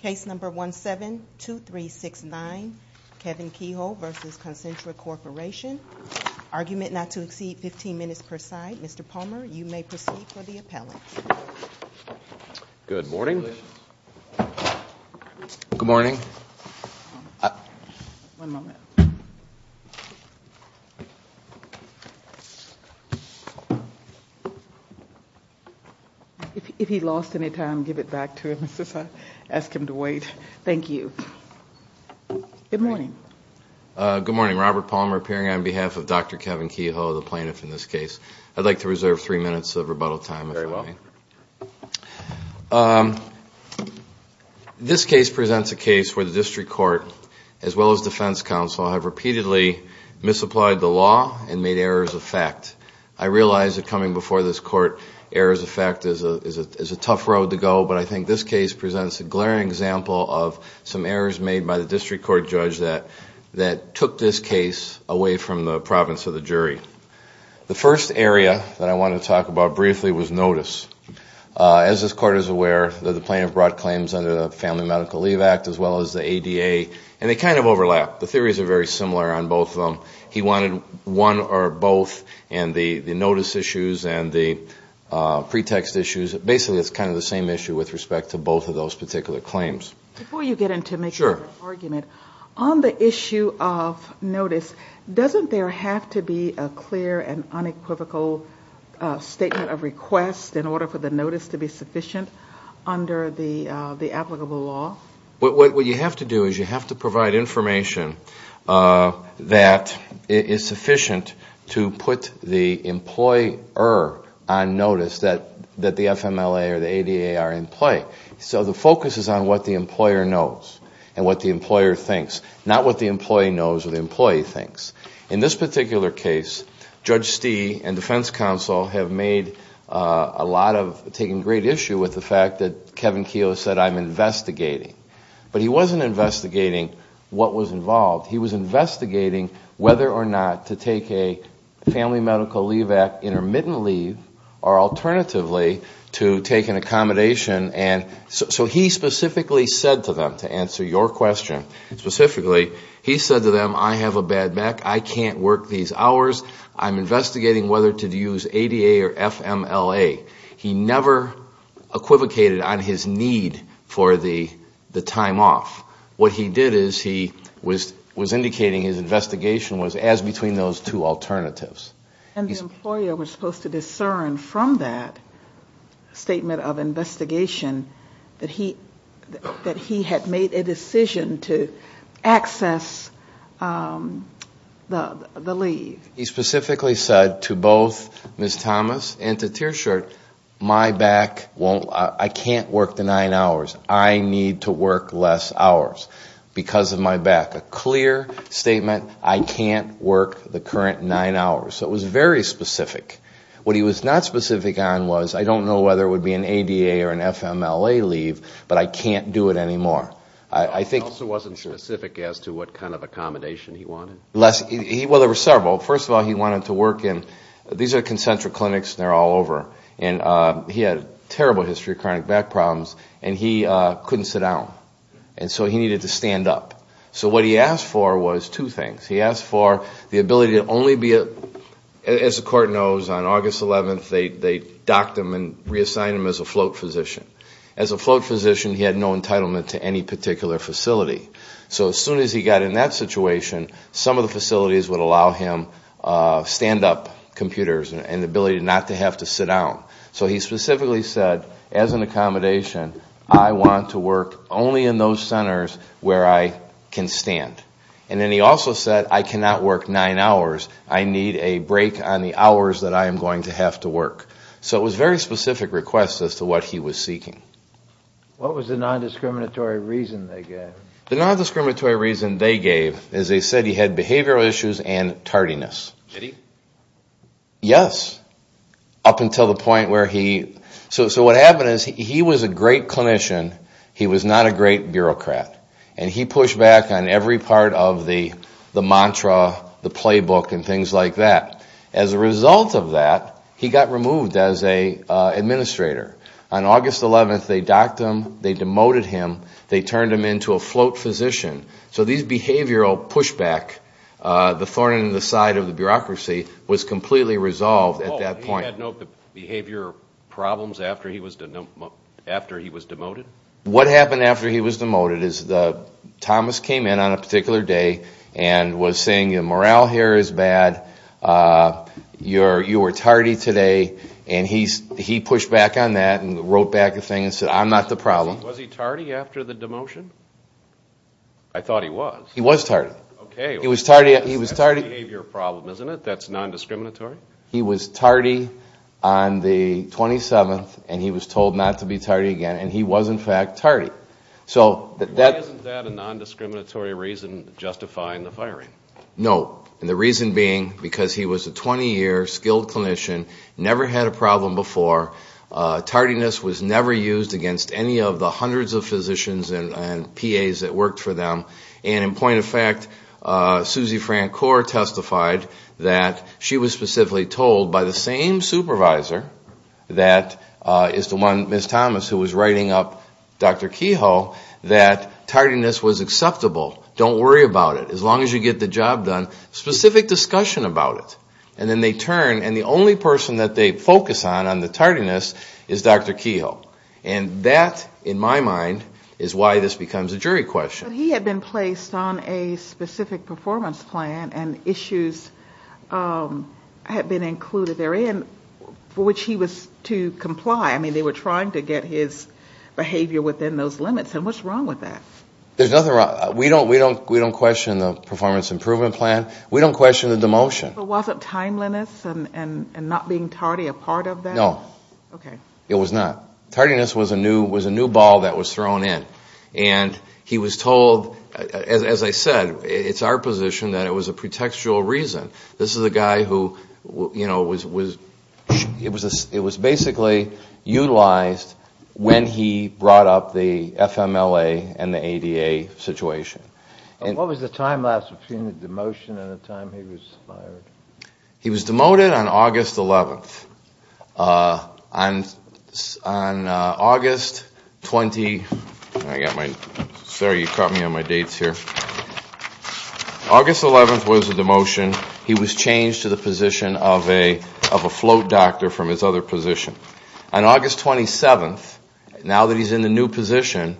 Case number 172369, Kevin Keogh v. Concentra Corporation. Argument not to exceed 15 minutes per side. Mr. Palmer, you may proceed for the appellate. Good morning. Good morning. One moment. If he lost any time, give it back to him. Ask him to wait. Thank you. Good morning. Good morning. Robert Palmer appearing on behalf of Dr. Kevin Keogh, the plaintiff in this case. I'd like to reserve three minutes of rebuttal time. Very well. This case presents a case where the district court, as well as defense counsel, have repeatedly misapplied the law and made errors of fact. I realize that coming before this court, errors of fact is a tough road to go, but I think this case presents a glaring example of some errors made by the district court judge that took this case away from the province of the jury. The first area that I want to talk about briefly was notice. As this court is aware, the plaintiff brought claims under the Family Medical Leave Act, as well as the ADA, and they kind of overlap. The theories are very similar on both of them. He wanted one or both, and the notice issues and the pretext issues, basically it's kind of the same issue with respect to both of those particular claims. Before you get into making an argument, on the issue of notice, doesn't there have to be a clear and unequivocal statement of request in order for the notice to be sufficient under the applicable law? What you have to do is you have to provide information that is sufficient to put the employer on notice that the FMLA or the ADA are in play. The focus is on what the employer knows and what the employer thinks, not what the employee knows or the employee thinks. In this particular case, Judge Stee and defense counsel have taken great issue with the fact that Kevin Keogh said, I'm investigating, but he wasn't investigating what was involved. He was investigating whether or not to take a Family Medical Leave Act intermittent leave or alternatively to take an accommodation. He specifically said to them, to answer your question specifically, he said to them, I have a bad back, I can't work these hours, I'm investigating whether to use ADA or FMLA. He never equivocated on his need for the time off. What he did is he was indicating his investigation was as between those two alternatives. And the employer was supposed to discern from that statement of investigation that he had made a decision to access the leave. He specifically said to both Ms. Thomas and to Tearshort, my back, I can't work the nine hours, I need to work less hours because of my back. A clear statement, I can't work the current nine hours. So it was very specific. What he was not specific on was, I don't know whether it would be an ADA or an FMLA leave, but I can't do it anymore. He also wasn't specific as to what kind of accommodation he wanted. Well, there were several. First of all, he wanted to work in, these are concentric clinics and they're all over. And he had a terrible history of chronic back problems and he couldn't sit down. And so he needed to stand up. So what he asked for was two things. He asked for the ability to only be, as the court knows, on August 11th they docked him and reassigned him as a float physician. As a float physician, he had no entitlement to any particular facility. So as soon as he got in that situation, some of the facilities would allow him stand-up computers and the ability not to have to sit down. So he specifically said, as an accommodation, I want to work only in those centers where I can stand. And then he also said, I cannot work nine hours. I need a break on the hours that I am going to have to work. So it was very specific requests as to what he was seeking. What was the nondiscriminatory reason they gave? The nondiscriminatory reason they gave is they said he had behavioral issues and tardiness. Did he? Yes. Up until the point where he... So what happened is he was a great clinician. He was not a great bureaucrat. And he pushed back on every part of the mantra, the playbook and things like that. As a result of that, he got removed as an administrator. On August 11th, they docked him. They demoted him. They turned him into a float physician. So these behavioral pushback, the thorn in the side of the bureaucracy, was completely resolved at that point. He had no behavior problems after he was demoted? What happened after he was demoted is Thomas came in on a particular day and was saying, your morale here is bad. You were tardy today. And he pushed back on that and wrote back saying, I'm not the problem. Was he tardy after the demotion? I thought he was. He was tardy. Okay. He was tardy. That's a behavior problem, isn't it? That's nondiscriminatory? He was tardy on the 27th and he was told not to be tardy again. And he was, in fact, tardy. Wasn't that a nondiscriminatory reason justifying the firing? No. And the reason being because he was a 20-year skilled clinician, never had a problem before. Tardiness was never used against any of the hundreds of physicians and PAs that worked for them. And in point of fact, Suzy Francoeur testified that she was specifically told by the same supervisor that is the one, Ms. Thomas, who was writing up Dr. Kehoe, that tardiness was acceptable. Don't worry about it. As long as you get the job done. Specific discussion about it. And then they turn and the only person that they focus on, on the tardiness, is Dr. Kehoe. And that, in my mind, is why this becomes a jury question. He had been placed on a specific performance plan and issues had been included therein for which he was to comply. I mean, they were trying to get his behavior within those limits. And what's wrong with that? There's nothing wrong. We don't question the performance improvement plan. We don't question the demotion. So was it timeliness and not being tardy a part of that? No. It was not. Tardiness was a new ball that was thrown in. And he was told, as I said, it's our position that it was a pretextual reason. This is a guy who, you know, it was basically utilized when he brought up the FMLA and the ADA situation. What was the time lapse between the demotion and the time he was fired? He was demoted on August 11th. On August 11th was the demotion. He was changed to the position of a float doctor from his other position. On August 27th, now that he's in the new position,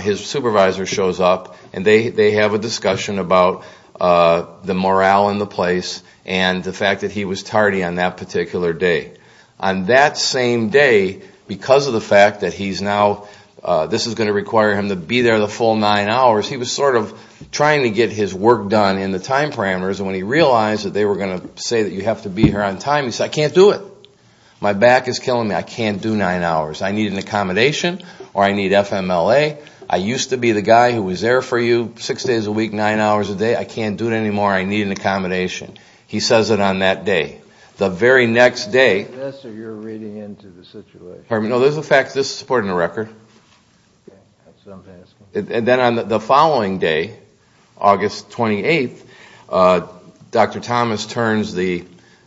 his supervisor shows up and they have a discussion about the morale in the place and the fact that he was tardy on that particular day. On that same day, because of the fact that this is going to require him to be there the full nine hours, he was sort of trying to get his work done in the time parameters. When he realized that they were going to say that you have to be here on time, he said, I can't do it. My back is killing me. I can't do nine hours. I need an accommodation or I need FMLA. I used to be the guy who was there for you six days a week, nine hours a day. I can't do it anymore. I need an accommodation. He says it on that day. The very next day, this is a supporting record. Then on the following day, August 28th, Dr. Thomas turns the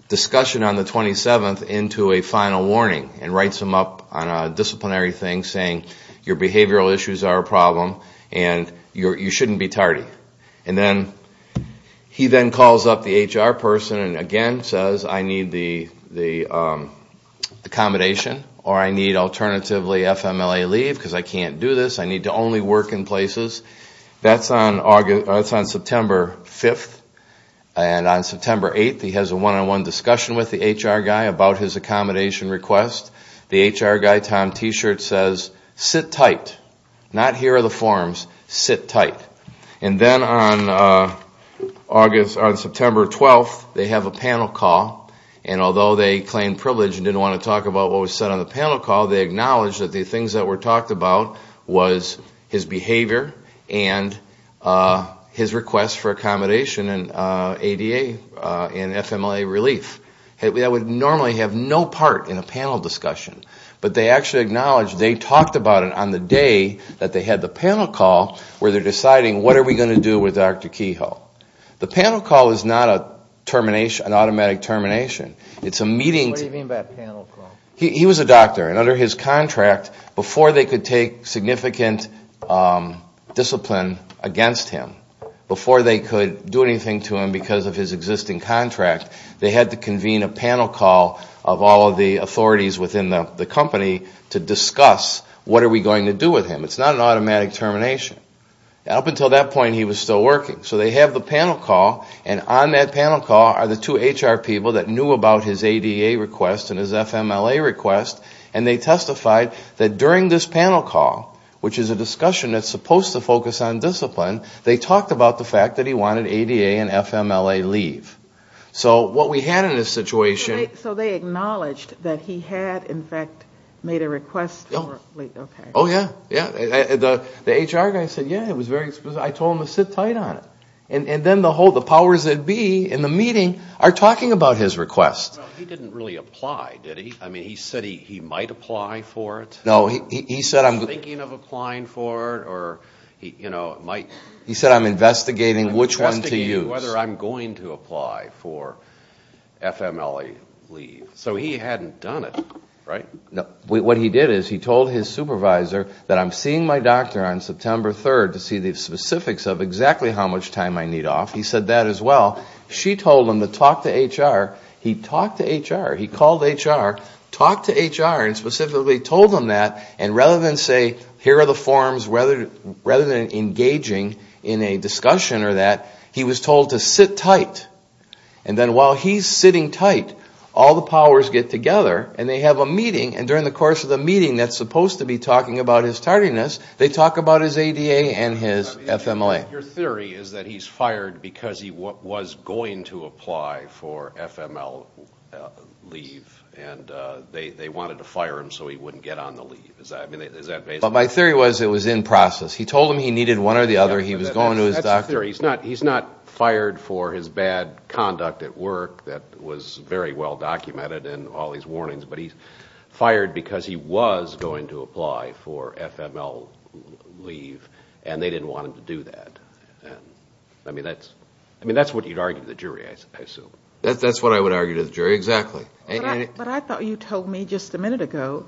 discussion on the 27th into a final warning and writes them up on a disciplinary thing saying your behavioral issues are a problem and you shouldn't be tardy. He then calls up the HR person and again says I need the accommodation or I need alternatively FMLA leave because I can't do this. I need to only work in places. That's on September 5th. On September 8th, he has a one-on-one discussion with the HR guy about his accommodation request. The HR guy, Tom T-shirt, says sit tight. Not here are the forms. Sit tight. Then on September 12th, they have a panel call. Although they claim privilege and didn't want to talk about what was said on the panel call, they acknowledge that the things that were talked about was his behavior and his request for accommodation and ADA and FMLA relief. That would normally have no part in a panel discussion, but they actually acknowledge they talked about it on the day that they had the panel call where they're deciding what are we going to do with Dr. Kehoe. The panel call is not an automatic termination. What do you mean by panel call? He was a doctor and under his contract, before they could take significant discipline against him, before they could do anything to him because of his existing contract, they had to convene a panel call of all of the authorities within the company to discuss what are we going to do with him. It's not an automatic termination. Up until that point, he was still working. So they have the panel call and on that panel call are the two HR people that knew about his ADA request and his FMLA request and they testified that during this panel call, which is a discussion that's supposed to focus on discipline, they talked about the fact that he wanted ADA and FMLA leave. So what we had in this situation... So they acknowledged that he had, in fact, made a request for leave. Oh, yeah, yeah. The HR guy said, yeah, I told him to sit tight on it. And then the powers that be in the meeting are talking about his request. He didn't really apply, did he? I mean, he said he might apply for it. No, he said... I'm thinking of applying for it or, you know, it might... He said, I'm investigating which one to use. I'm thinking whether I'm going to apply for FMLA leave. So he hadn't done it, right? What he did is he told his supervisor that I'm seeing my doctor on September 3rd to see the specifics of exactly how much time I need off. He said that as well. She told him to talk to HR. He talked to HR. He called HR, talked to HR and specifically told them that and rather than say, here are the forms, rather than engaging in a discussion or that, he was told to sit tight. And then while he's sitting tight, all the powers get together and they have a meeting and during the course of the meeting that's supposed to be talking about his tardiness, they talk about his ADA and his FMLA. Your theory is that he's fired because he was going to apply for FMLA leave and they wanted to fire him so he wouldn't get on the leave. Is that... My theory was it was in process. He told them he needed one or the other. He was going to his doctor. He's not fired for his bad conduct at work. That was very well documented but he's fired because he was going to apply for FMLA leave and they didn't want him to do that. I mean, that's what you'd argue to the jury, I assume. That's what I would argue to the jury, exactly. But I thought you told me just a minute ago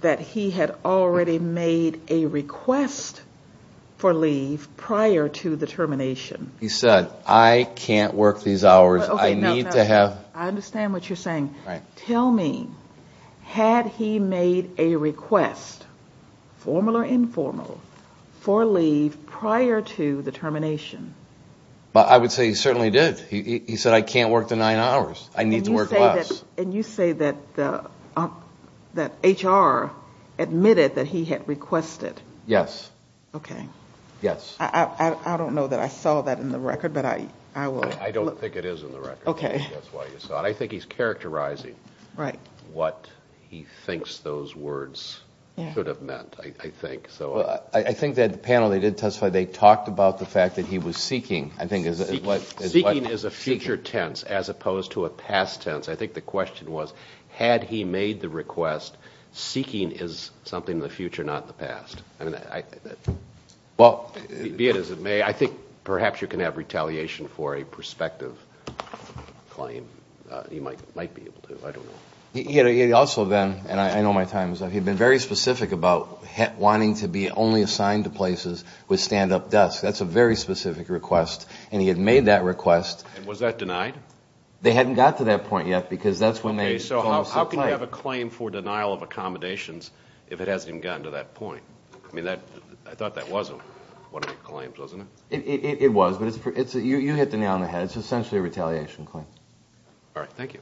that he had already made a request for leave prior to the termination. He said, I can't work these hours. I need to have... I mean, had he made a request, formal or informal, for leave prior to the termination? I would say he certainly did. He said, I can't work the nine hours. I need to work less. And you say that HR admitted that he had requested. Yes. I don't know that I saw that in the record but I will... I don't think it is in the record. I think he's characterizing. What he thinks those words could have meant, I think. I think that panel, they did testify. They talked about the fact that he was seeking. Seeking is a future tense as opposed to a past tense. I think the question was, had he made the request, seeking is something of the future, not the past. I mean, be it as it may, I think perhaps you can have retaliation for a prospective claim. He might be. I don't know. He also then, and I know my time is up, he had been very specific about wanting to be only assigned to places with stand-up desks. That's a very specific request. And he had made that request. And was that denied? They hadn't got to that point yet because that's when they... Okay, so how can you have a claim for denial of accommodations if it hasn't even gotten to that point? I mean, I thought that wasn't one of the claims, wasn't it? It was. You hit the nail on the head. It's essentially a retaliation claim. All right, thank you.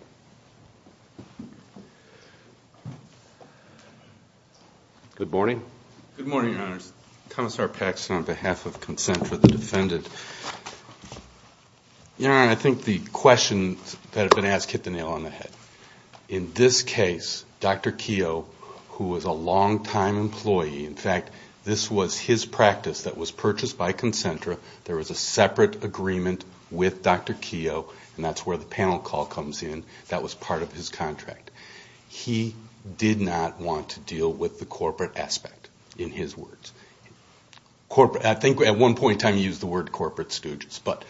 Good morning. Good morning, Your Honor. Commissar Paxson on behalf of Concentra, the defendant. Your Honor, I think the question that has been asked hit the nail on the head. In this case, Dr. Keough, who was a longtime employee, in fact, this was his practice that was purchased by Concentra. There was a separate agreement with Dr. Keough, and that's where the panel call comes in. That was part of his contract. He did not want to deal with the corporate aspect, in his words. I think at one point in time he used the word corporate, but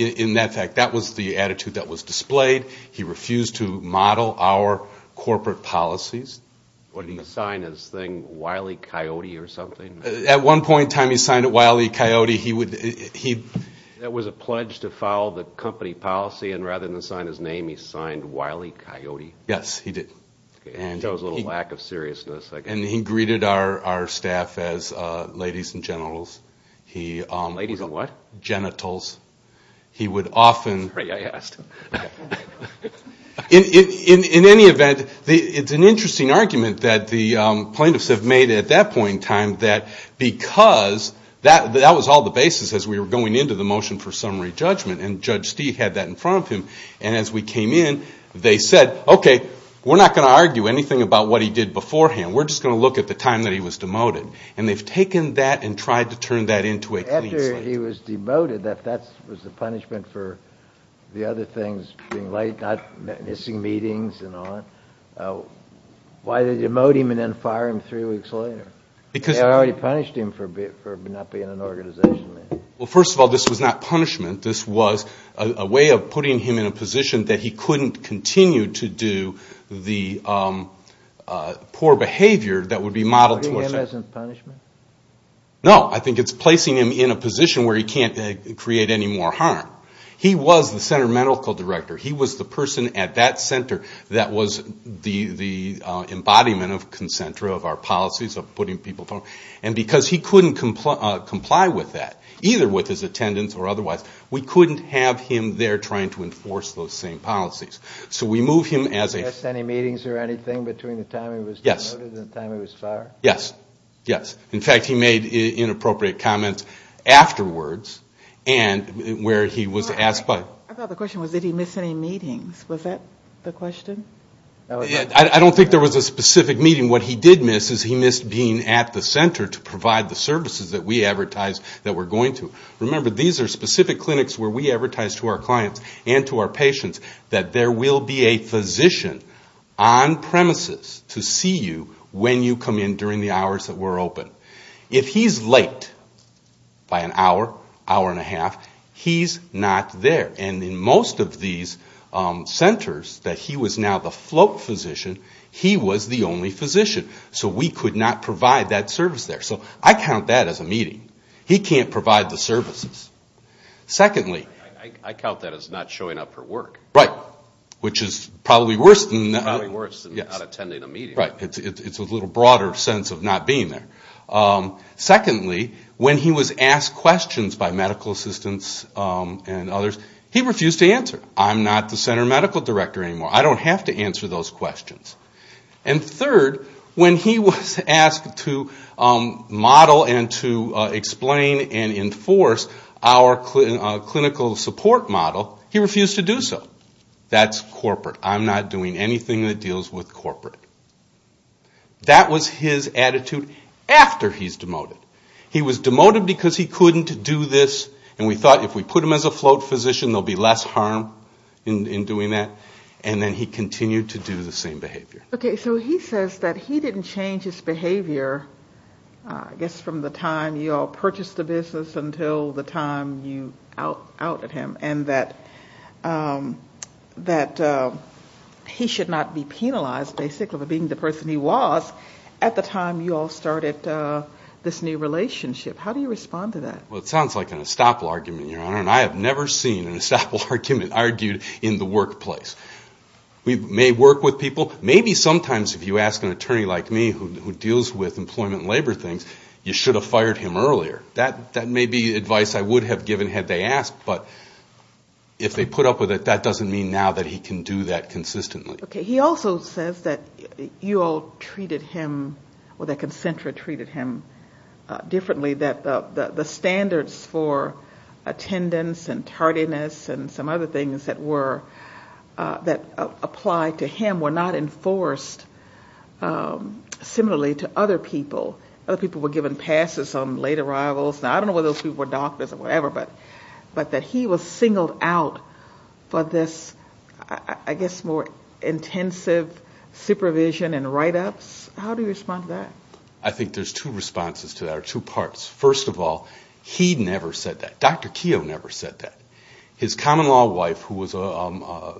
in that fact, that was the attitude that was displayed. He refused to model our corporate policies. Wasn't he going to sign his thing Wile E. Coyote or something? At one point in time he signed it Wile E. Coyote. That was a pledge to follow the company policy, and rather than sign his name, he signed Wile E. Coyote. Yes, he did. That was a little lack of seriousness. He greeted our staff as ladies and genitals. Ladies of what? Genitals. In any event, it's an interesting argument that the plaintiffs have made at that point in time that because that was all the basis as we were going into the motion for summary judgment, and Judge Stee had that in front of him, and as we came in, they said, okay, we're not going to argue anything about what he did beforehand. We're just going to look at the time that he was demoted, and they've taken that and tried to turn that into a case law. After he was demoted, if that was the punishment for the other things being late, missing meetings and all that, why did they demote him and then fire him three weeks later? Well, they already punished him for not being in an organization. Well, first of all, this was not punishment. This was a way of putting him in a position that he couldn't continue to do the poor behavior that would be modeled towards him. Are you looking at him as a punishment? No, I think it's placing him in a position where he can't create any more harm. He was the center medical director. He was the person at that center that was the embodiment of our policies of putting people through. And because he couldn't comply with that, either with his attendance or otherwise, we couldn't have him there trying to enforce those same policies. So we moved him as a... Did he miss any meetings or anything between the time he was demoted and the time he was fired? Yes, yes. In fact, he made inappropriate comments afterwards, where he was asked... I thought the question was, did he miss any meetings? Was that the question? I don't think there was a specific meeting. And what he did miss is he missed being at the center to provide the services that we advertised that we're going to. Remember, these are specific clinics where we advertise to our clients and to our patients that there will be a physician on premises to see you when you come in during the hours that we're open. If he's late by an hour, hour and a half, he's not there. And in most of these centers that he was now the float physician, he was the only physician. So we could not provide that service there. So I count that as a meeting. He can't provide the services. Secondly... I count that as not showing up for work. Right. Which is probably worse than not attending a meeting. Right. It's a little broader sense of not being there. Secondly, when he was asked questions by medical assistants and others, he refused to answer. I'm not the center medical director anymore. I don't have to answer those questions. And third, when he was asked to model and to explain and enforce our clinical support model, he refused to do so. That's corporate. I'm not doing anything that deals with corporate. That was his attitude after he's demoted. He was demoted because he couldn't do this and we thought if we put him as a float physician there'll be less harm in doing that. And then he continued to do the same behavior. Okay, so he says that he didn't change his behavior I guess from the time you all purchased the business until the time you outed him and that he should not be penalized basically for being the person he was at the time you all started this new relationship. How do you respond to that? Well, it sounds like an estoppel argument, Your Honor, and I have never seen an estoppel argument argued in the workplace. We may work with people. To me, sometimes if you ask an attorney like me who deals with employment and labor things, you should have fired him earlier. That may be advice I would have given had they asked, but if they put up with it, that doesn't mean now that he can do that consistently. Okay, he also says that you all treated him or that Concentra treated him differently, that the standards for attendance and tardiness and some other things that apply to him were not enforced similarly to other people. Other people were given passes on late arrivals. I don't know whether those people were doctors or whatever, but that he was singled out for this, I guess, more intensive supervision and write-ups. How do you respond to that? I think there's two responses to that or two parts. First of all, he never said that. Dr. Keough never said that. His common-law wife, who was a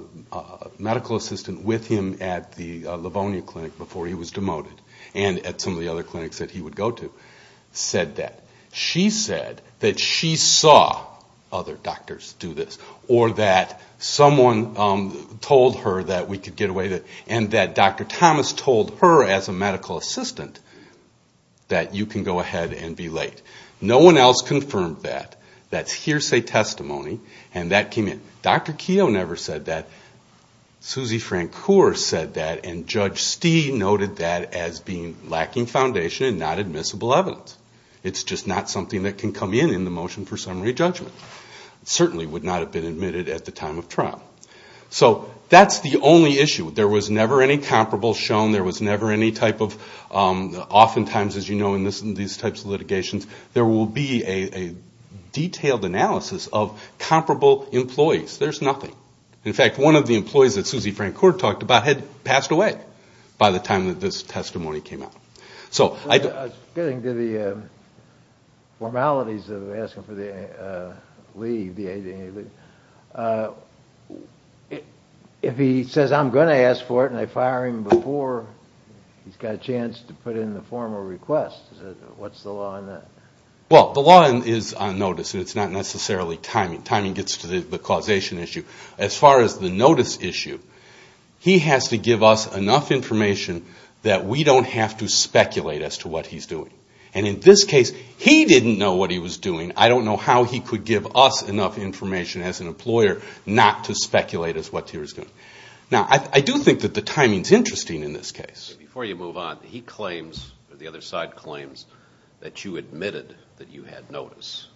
medical assistant with him at the Livonia Clinic before he was demoted and at some of the other clinics that he would go to, said that. She said that she saw other doctors do this or that someone told her that we could get away with it and that Dr. Thomas told her as a medical assistant that you can go ahead and be late. No one else confirmed that, that hearsay testimony, and that came in. Dr. Keough never said that. Susie Francoeur said that, and Judge Stee noted that as lacking foundation and not admissible evidence. It's just not something that can come in in the motion for summary judgment. It certainly would not have been admitted at the time of trial. So that's the only issue. There was never any comparable shown. There was never any type of, oftentimes, as you know in these types of litigations, there will be a detailed analysis of comparable employees. There's nothing. In fact, one of the employees that Susie Francoeur talked about had passed away by the time that this testimony came out. I was getting to the formalities of asking for the leave. If he says I'm going to ask for it and I fire him before he's got a chance to put in the formal request, what's the law on that? Well, the law is on notice. It's not necessarily timing. Timing gets to the causation issue. As far as the notice issue, he has to give us enough information that we don't have to speculate as to what he's doing. And in this case, he didn't know what he was doing. I don't know how he could give us enough information as an employer not to speculate as to what he was doing. Now, I do think that the timing is interesting in this case. Before you move on, he claims, the other side claims that you admitted that you had notice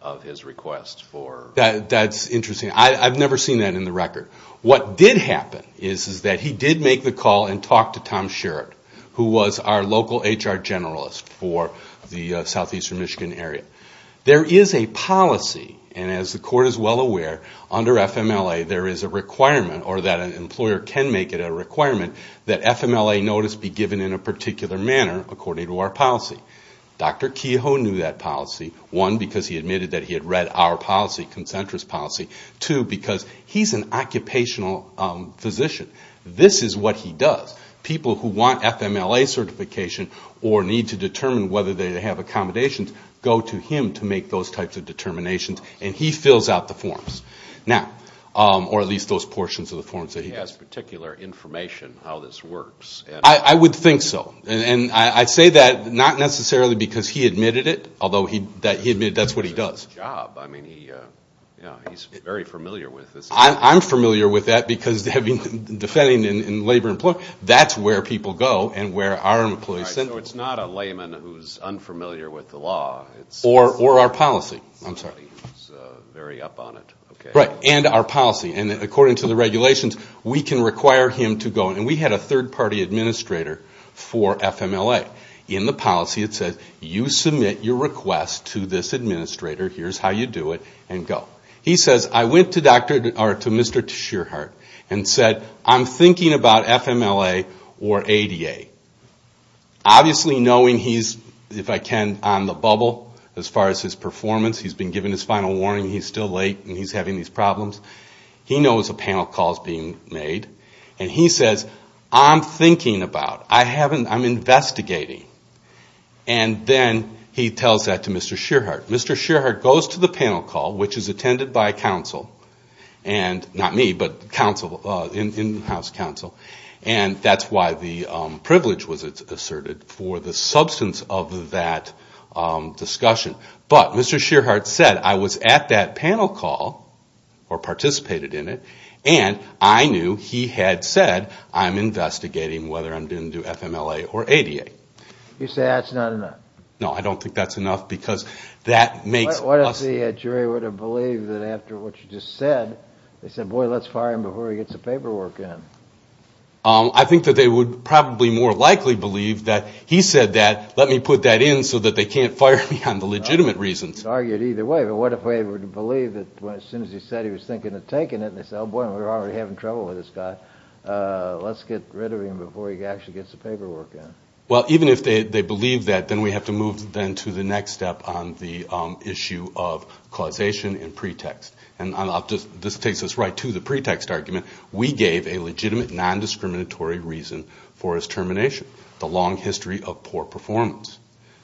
of his request for... That's interesting. I've never seen that in the record. What did happen is that he did make the call and talk to Tom Sherritt, who was our local HR generalist for the southeastern Michigan area. There is a policy, and as the court is well aware, under FMLA there is a requirement, or that an employer can make it a requirement, that FMLA notice be given in a particular manner according to our policy. Dr. Kehoe knew that policy. One, because he admitted that he had read our policy, Concentris policy. Two, because he's an occupational physician. This is what he does. People who want FMLA certification or need to determine whether they have accommodations go to him to make those types of determinations, and he fills out the forms. Or at least those portions of the forms that he does. He has particular information on how this works. I would think so. And I say that not necessarily because he admitted it, although he admitted that's what he does. He does a good job. He's very familiar with this. I'm familiar with that because defending in labor and employment, that's where people go and where our employees send people. So it's not a layman who's unfamiliar with the law. Or our policy. He's very up on it. Right, and our policy. And according to the regulations, we can require him to go. And we had a third-party administrator for FMLA. In the policy it said, I have a request to this administrator. Here's how you do it, and go. He says, I went to Mr. Shearheart and said, I'm thinking about FMLA or ADA. Obviously knowing he's, if I can, on the bubble as far as his performance. He's been given his final warning. He's still late and he's having these problems. He knows a panel call is being made. And he says, I'm thinking about. I'm investigating. And then he tells that to Mr. Shearheart. Mr. Shearheart goes to the panel call, which is attended by counsel. And not me, but in-house counsel. And that's why the privilege was asserted for the substance of that discussion. But Mr. Shearheart said, I was at that panel call or participated in it, and I knew he had said, I'm investigating whether I'm doing FMLA or ADA. You say that's not enough. No, I don't think that's enough because that makes us... What if the jury would have believed that after what you just said, they said, boy, let's fire him before he gets the paperwork in. I think that they would probably more likely believe that he said that, let me put that in so that they can't fire me on the legitimate reasons. You could argue it either way. But what if they would have believed that as soon as he said he was thinking of taking it, they said, oh boy, we're already having trouble with this guy. Let's get rid of him before he actually gets the paperwork in. Well, even if they believe that, then we have to move then to the next step on the issue of causation and pretext. And this takes us right to the pretext argument. We gave a legitimate non-discriminatory reason for his termination, the long history of poor performance.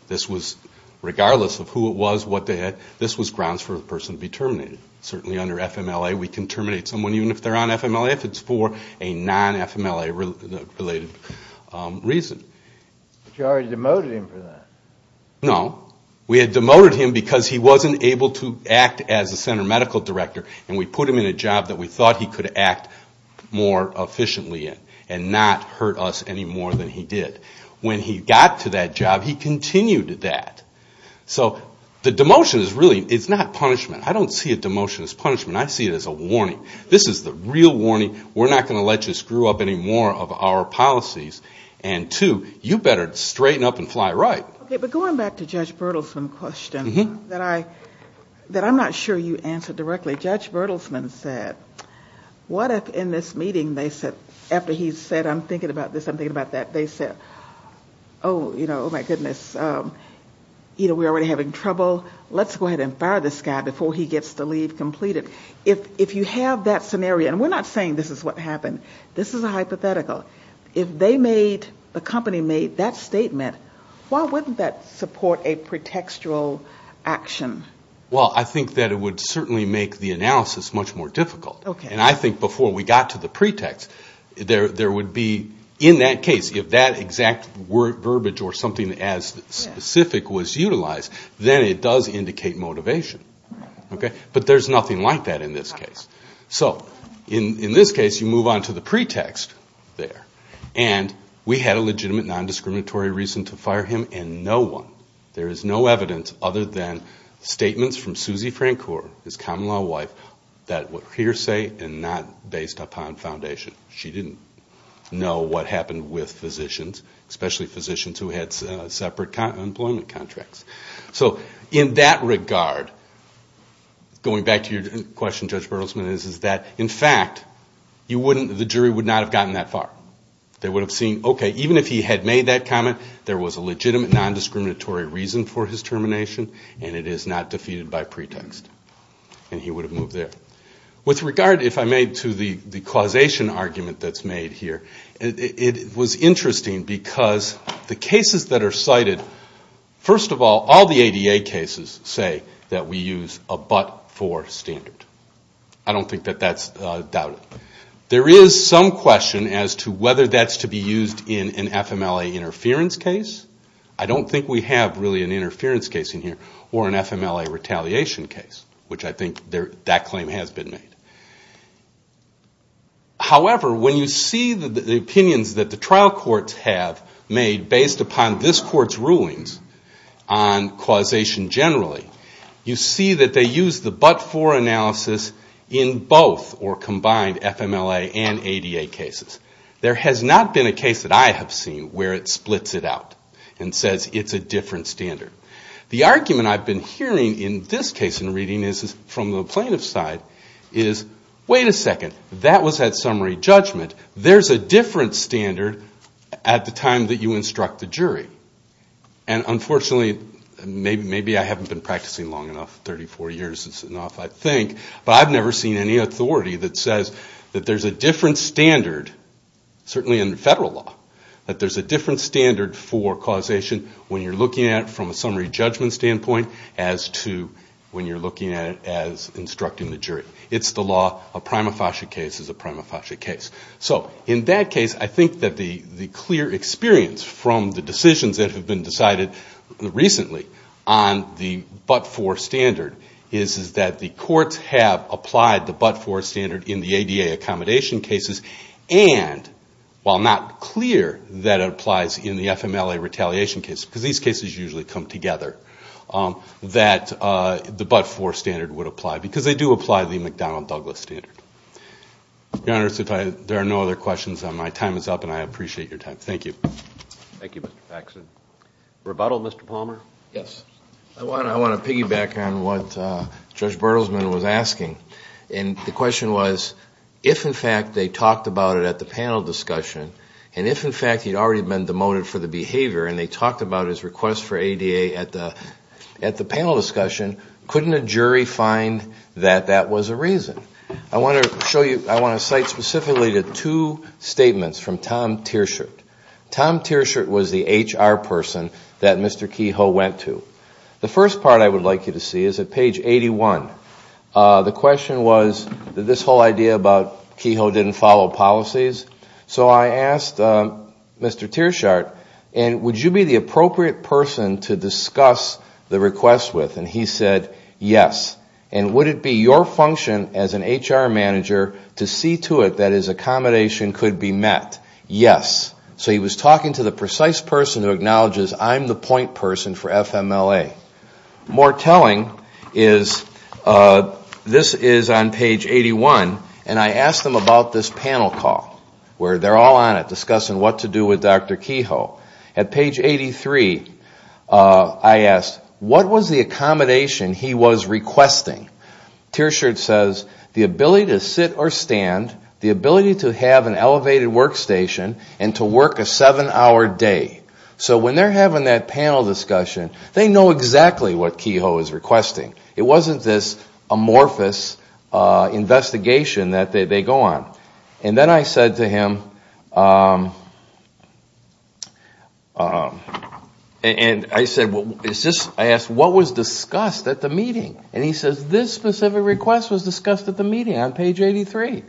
This was, regardless of who it was, what they had, this was grounds for a person to be terminated. Certainly under FMLA, we can terminate someone even if they're on FMLA, if it's for a non-FMLA-related reason. But you already demoted him for that. No. We had demoted him because he wasn't able to act as the center medical director, and we put him in a job that we thought he could act more efficiently in and not hurt us any more than he did. When he got to that job, he continued that. So the demotion is really, it's not punishment. I don't see a demotion as punishment. I see it as a warning. This is the real warning. We're not going to let you screw up any more of our policies. And two, you better straighten up and fly right. Okay, but going back to Judge Bertelsman's question that I'm not sure you answered directly, Judge Bertelsman said, what if in this meeting, after he said, I'm thinking about this, I'm thinking about that, they said, oh, my goodness, we're already having trouble. Let's go ahead and fire this guy before he gets the leave completed. If you have that scenario, and we're not saying this is what happened. This is a hypothetical. If the company made that statement, why wouldn't that support a pretextual action? Well, I think that it would certainly make the analysis much more difficult. And I think before we got to the pretext, there would be, in that case, if that exact verbiage or something as specific was utilized, then it does indicate motivation. But there's nothing like that in this case. So in this case, you move on to the pretext there. And we had a legitimate, non-discriminatory reason to fire him, and no one, there is no evidence other than statements from Suzy Francor, his common law wife, that were hearsay and not based upon foundation. She didn't know what happened with physicians, especially physicians who had separate employment contracts. So in that regard, going back to your question, Judge Bertelsman, is that, in fact, the jury would not have gotten that far. They would have seen, okay, even if he had made that comment, there was a legitimate, non-discriminatory reason for his termination, and it is not defeated by pretext. And he would have moved there. With regard, if I may, to the causation argument that's made here, it was interesting because the cases that are cited, first of all, all the ADA cases say that we use a but for standard. I don't think that that's doubted. There is some question whether that's to be used in an FMLA interference case. I don't think we have really an interference case in here or an FMLA retaliation case, which I think that claim has been made. However, when you see the opinions that the trial courts have made based upon this court's rulings on causation generally, you see that they use the but for analysis in both or combined FMLA and ADA cases. There has not been a case that I have seen where it splits it out and says it's a different standard. The argument I've been hearing in this case in reading is from the plaintiff's side is, wait a second, that was that summary judgment. There's a different standard at the time that you instruct the jury. And unfortunately, maybe I haven't been practicing long enough, 34 years is enough, I think, but I've never seen any authority in federal law that there's a different standard for causation when you're looking at it from a summary judgment standpoint as to when you're looking at it as instructing the jury. It's the law. A prima facie case is a prima facie case. So in that case, I think that the clear experience from the decisions that have been decided recently on the but for standard is that the courts have applied the but for standard in the ADA accommodation cases and it's not clear that it applies in the FMLA retaliation case because these cases usually come together that the but for standard would apply because they do apply the McDonnell-Douglas standard. Your Honor, there are no other questions. My time is up and I appreciate your time. Thank you. Thank you, Mr. Baxton. Rebuttal, Mr. Palmer? Yes. I want to piggyback on what Judge Bertelsmann was asking. And the question was if in fact they talked about it at the panel discussion and if in fact he'd already been demoted for the behavior and they talked about his request for ADA at the panel discussion, couldn't a jury find that that was a reason? I want to cite specifically the two statements from Tom Tearshirt. Tom Tearshirt was the HR person that Mr. Kehoe went to. The first part I would like you to see is at page 81. The question was about Kehoe didn't follow policies. So I asked Mr. Tearshirt, would you be the appropriate person to discuss the request with? And he said yes. And would it be your function as an HR manager to see to it that his accommodation could be met? Yes. So he was talking to the precise person who acknowledges I'm the point person for FMLA. More telling is this is on page 81 and I asked him about this panel call where they're all on it discussing what to do with Dr. Kehoe. At page 83, I asked, what was the accommodation he was requesting? Tearshirt says, the ability to sit or stand, the ability to have an elevated workstation and to work a seven-hour day. So when they're having that panel discussion, they know exactly what Kehoe is requesting. It wasn't this amorphous investigation that they go on. And then I said to him, I asked what was discussed at the meeting? And he says, this specific request was discussed at the meeting on page 83.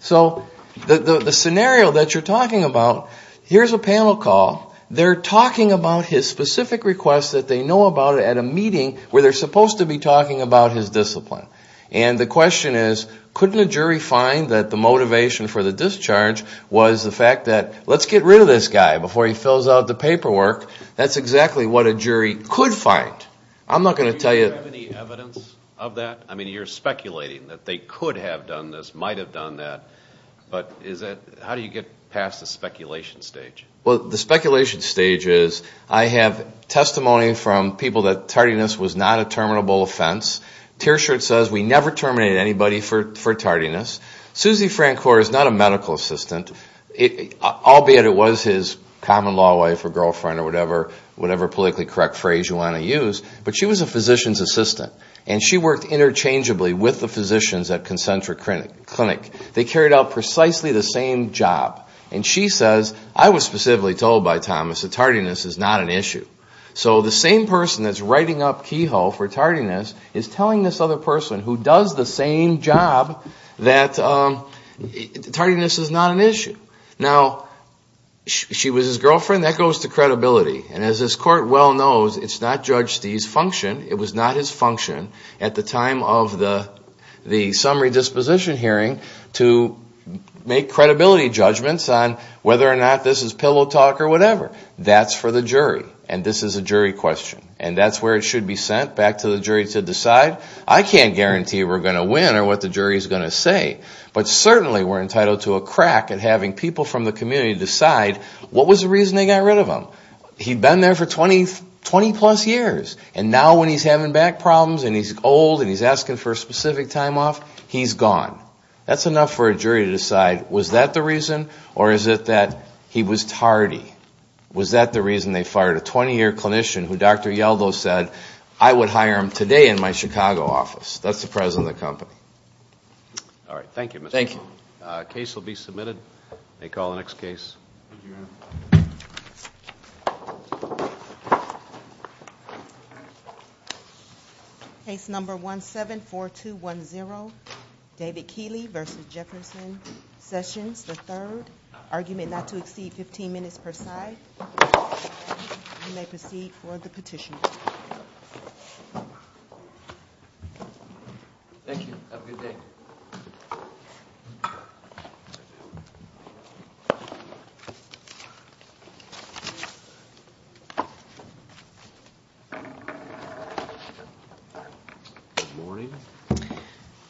So the scenario that you're talking about, here's a panel call. They're talking about his specific request that they know about at a meeting where they're supposed to be talking about his discipline. And the question is, couldn't a jury find that the motivation for the discharge was the fact that let's get rid of this guy before he fills out the paperwork? That's exactly what a jury could find. I'm not going to tell you... Do you have any evidence of that? I mean, you're speculating that they could have done this, might have done that, but how do you get past the speculation stage? Well, the speculation stage is, I have testimony from people that tardiness was not a terminable offense. Thomas says, we never terminate anybody for tardiness. Susie Francor is not a medical assistant, albeit it was his common-law wife or girlfriend or whatever politically correct phrase you want to use, but she was a physician's assistant and she worked interchangeably with the physicians at Concentric Clinic. They carried out precisely the same job. And she says, I was specifically told by Thomas that tardiness is not an issue. So the same person that's writing up Kehoe who does the same job, that tardiness is not an issue. Now, she was his girlfriend. That goes to credibility. And as this court well knows, it's not Judge Stee's function, it was not his function at the time of the summary disposition hearing to make credibility judgments on whether or not this is pillow talk or whatever. That's for the jury. And this is a jury question. And that's where it should be sent back to the jury to decide. I can't guarantee we're going to win or what the jury is going to say, but certainly we're entitled to a crack in having people from the community decide what was the reason they got rid of him. He'd been there for 20 plus years and now when he's having back problems and he's old and he's asking for a specific time off, he's gone. That's enough for a jury to decide was that the reason or is it that he was tardy? Was that the reason they fired him today in my Chicago office? That's the president of the company. All right. Thank you, Mr. Newman. Thank you. Case will be submitted. May call the next case. Case number 174210, David Keeley versus Jefferson Sessions III, argument not to exceed 15 minutes per side. You may proceed for the petition. Thank you. Good morning.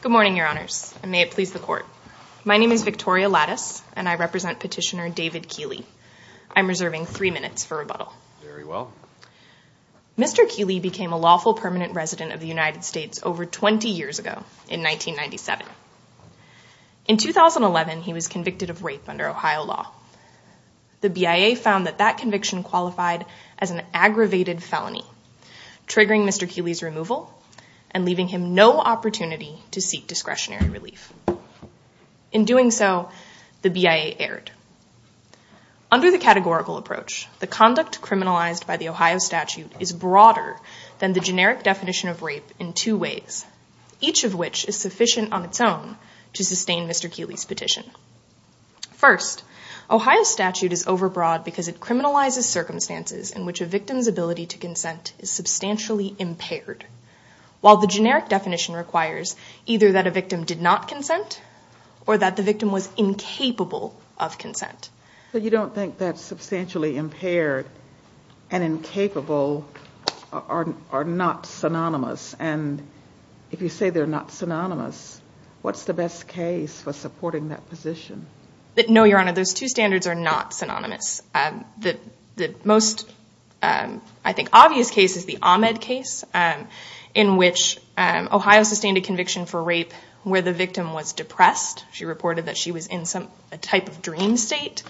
Good morning, your honors. May it please the court. My name is Victoria Lattice and I represent petitioner David Keeley. I'm reserving three minutes for rebuttal. Very well. Mr. Keeley became a lawful permanent resident of the United States over 20 years ago in 1997. In 2011, he was convicted of rape under Ohio law. The BIA found that that conviction qualified as an aggravated felony triggering Mr. Keeley's removal and leaving him no opportunity to seek discretionary relief. In doing so, the BIA erred. Under the categorical approach, the conduct criminalized by the Ohio statute is broader than the generic definition of rape in two ways, each of which is sufficient on its own to sustain Mr. Keeley's petition. First, Ohio statute is overbroad because it criminalizes circumstances in which a victim's ability to consent is substantially impaired. While the generic definition requires either that a victim did not consent or that the victim was incapable of consent. So you don't think that substantially impaired and incapable are not synonymous? And if you say they're not synonymous, what's the best case for supporting that position? No, Your Honor, those two standards are not synonymous. The most, I think, obvious case is the Ahmed case in which Ohio sustained a conviction for rape where the victim was depressed. She reported that she was in some type of dream state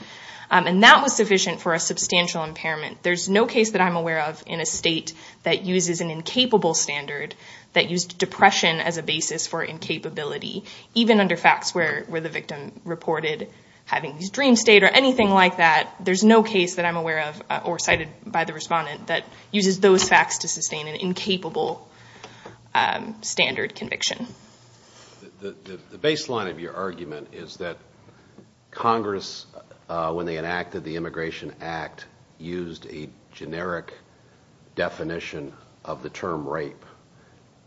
and that was sufficient for a substantial impairment. There's no case that I'm aware of in a state that uses an incapable standard that used depression as a basis for incapability. Even under facts where the victim reported having this dream state or anything like that, there's no case that I'm aware of or cited by the respondent that uses those facts to sustain an incapable standard conviction. The baseline of your argument is that Congress, when they enacted the Immigration Act, used a generic definition of the term rape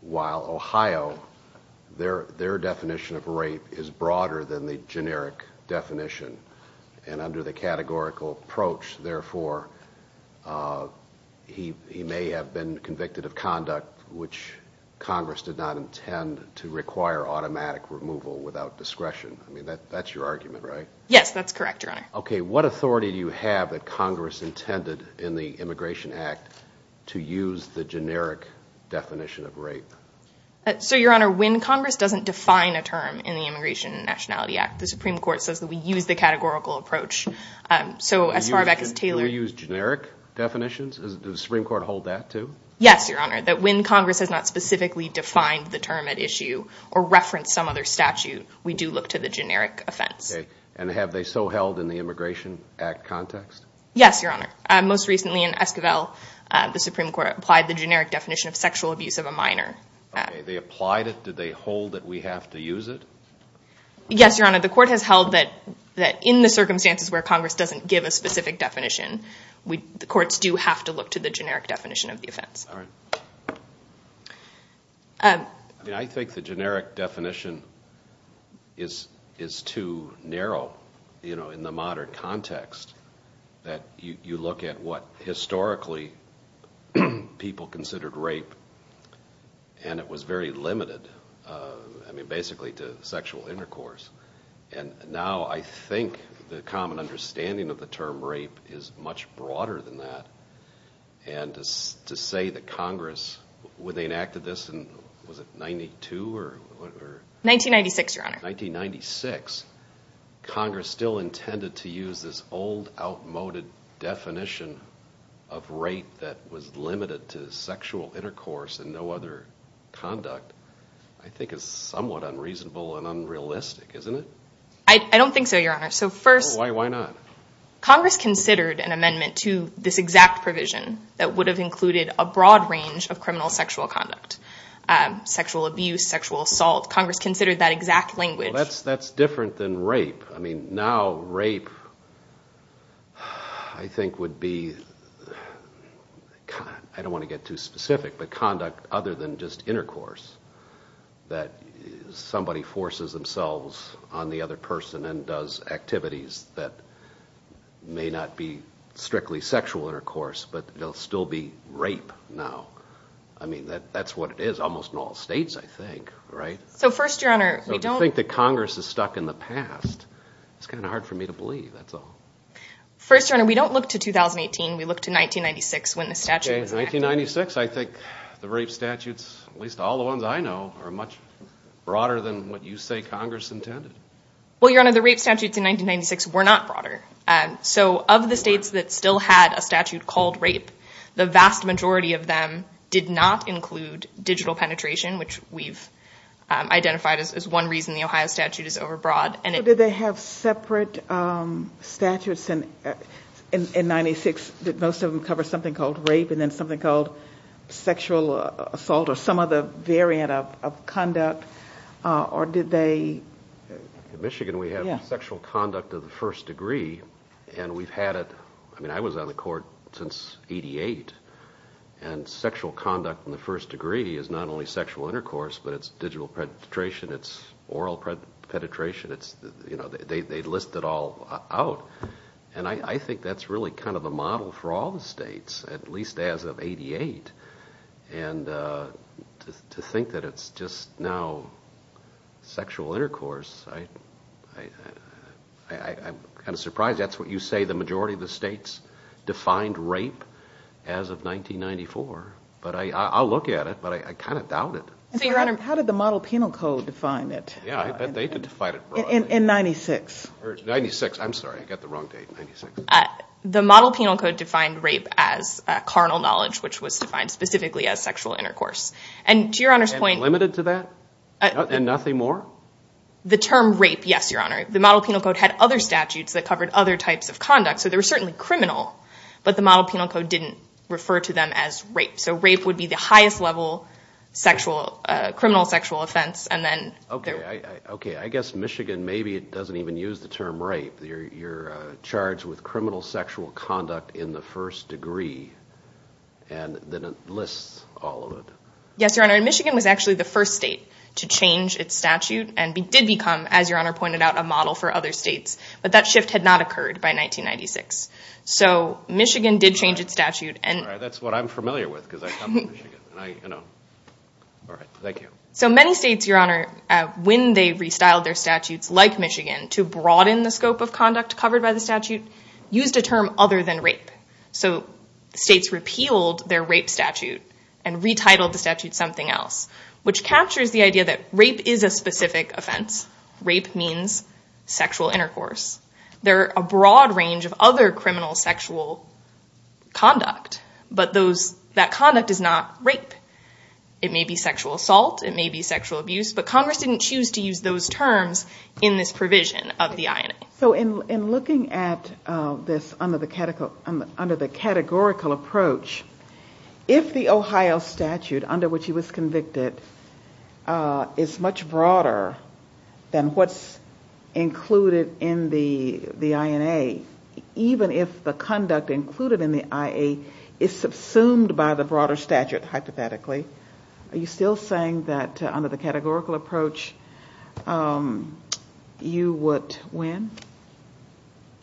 while Ohio, their definition of rape is broader than the generic definition. And under the categorical approach, therefore, he may have been convicted of conduct which Congress did not intend to require automatic removal without discretion. I mean, that's your argument, right? Yes, that's correct, Your Honor. Okay, what authority do you have that Congress intended in the Immigration Act to use the generic definition of rape? So, Your Honor, when Congress doesn't define a term in the Immigration and Nationality Act, the Supreme Court says that we use the categorical approach. So as far back as Taylor's... Do they use generic definitions? Does the Supreme Court hold that, too? Yes, Your Honor, that when Congress has not specifically defined the term at issue or referenced some other statute, we do look to the generic offense. Okay, and have they so held in the Immigration Act context? Yes, Your Honor. Most recently in Esquivel, the Supreme Court applied the generic definition of sexual abuse of a minor. Okay, they applied it. Did they hold that we have to use it? Yes, Your Honor, the Court has held that in the circumstances where Congress doesn't give a specific definition, they did not. I think the generic definition is too narrow, you know, in the modern context that you look at what historically people considered rape and it was very limited, I mean, basically to sexual intercourse. And now I think the common understanding of the term rape is much broader than that. And to say that Congress when they enacted this in, was it 92? 1996, Your Honor. 1996, Congress still intended to use this old outmoded definition of rape that was limited to sexual intercourse and no other conduct, I think is somewhat unreasonable and unrealistic, isn't it? I don't think so, Your Honor. Why not? Congress considered an amendment to this exact provision to criminal sexual conduct, sexual abuse, sexual assault. Congress considered that exact language. That's different than rape. I mean, now rape, I think would be, I don't want to get too specific, but conduct other than just intercourse. That somebody forces themselves on the other person and does activities that may not be strictly sexual intercourse, but they'll still be rape now. I mean, that's what it is almost in all states, I think, right? So first, Your Honor, we don't... I think that Congress is stuck in the past. It's kind of hard for me to believe, that's all. First, Your Honor, we don't look to 2018. We look to 1996 when the statute... 1996, I think the rape statutes, at least all the ones I know, are much broader than what you say Congress intended. Well, Your Honor, the rape statutes in 1996 were not broader. So of the states that still had a statute called rape, a lot include digital penetration, which we've identified as one reason the Ohio statute is overbroad. Did they have separate statutes in 1996 that most of them cover something called rape and then something called sexual assault or some other variant of conduct? Or did they... In Michigan, we have sexual conduct of the first degree, and we've had it... I mean, I was on the Court since 88, and sexual conduct of the first degree is not only sexual intercourse, but it's digital penetration, it's oral penetration. They list it all out, and I think that's really kind of a model for all the states, at least as of 88. And to think that it's just now sexual intercourse, I'm kind of surprised. That's what you say the majority of the states defined rape as of 1994, but I'll look at it, but I kind of doubt it. Your Honor, how did the Model Penal Code define it? Yeah, they could define it broadly. In 96. 96, I'm sorry, I got the wrong date. The Model Penal Code defined rape as carnal knowledge, which was defined specifically as sexual intercourse. And to Your Honor's point... And it's limited to that? And nothing more? The term rape, yes, Your Honor. The Model Penal Code didn't refer to them as rape. So rape would be the highest level criminal sexual offense, and then... Okay, I guess Michigan maybe doesn't even use the term rape. You're charged with criminal sexual conduct in the first degree, and then it lists all of it. Yes, Your Honor. Michigan was actually the first state to change its statute, and did become, as Your Honor pointed out, a model for other states, to change their statute. All right, that's what I'm familiar with, because I come from Michigan. All right, thank you. So many states, Your Honor, when they restyled their statutes, like Michigan, to broaden the scope of conduct covered by the statute, used a term other than rape. So states repealed their rape statute and retitled the statute something else, which captures the idea that rape is a specific offense. Rape means sexual intercourse. Rape means sexual conduct. But that conduct is not rape. It may be sexual assault. It may be sexual abuse. But Congress didn't choose to use those terms in this provision of the INA. So in looking at this under the categorical approach, if the Ohio statute under which he was convicted is much broader than what's included in the INA, even if the conduct that's included in the IA is subsumed by the broader statute, hypothetically, are you still saying that under the categorical approach you would win?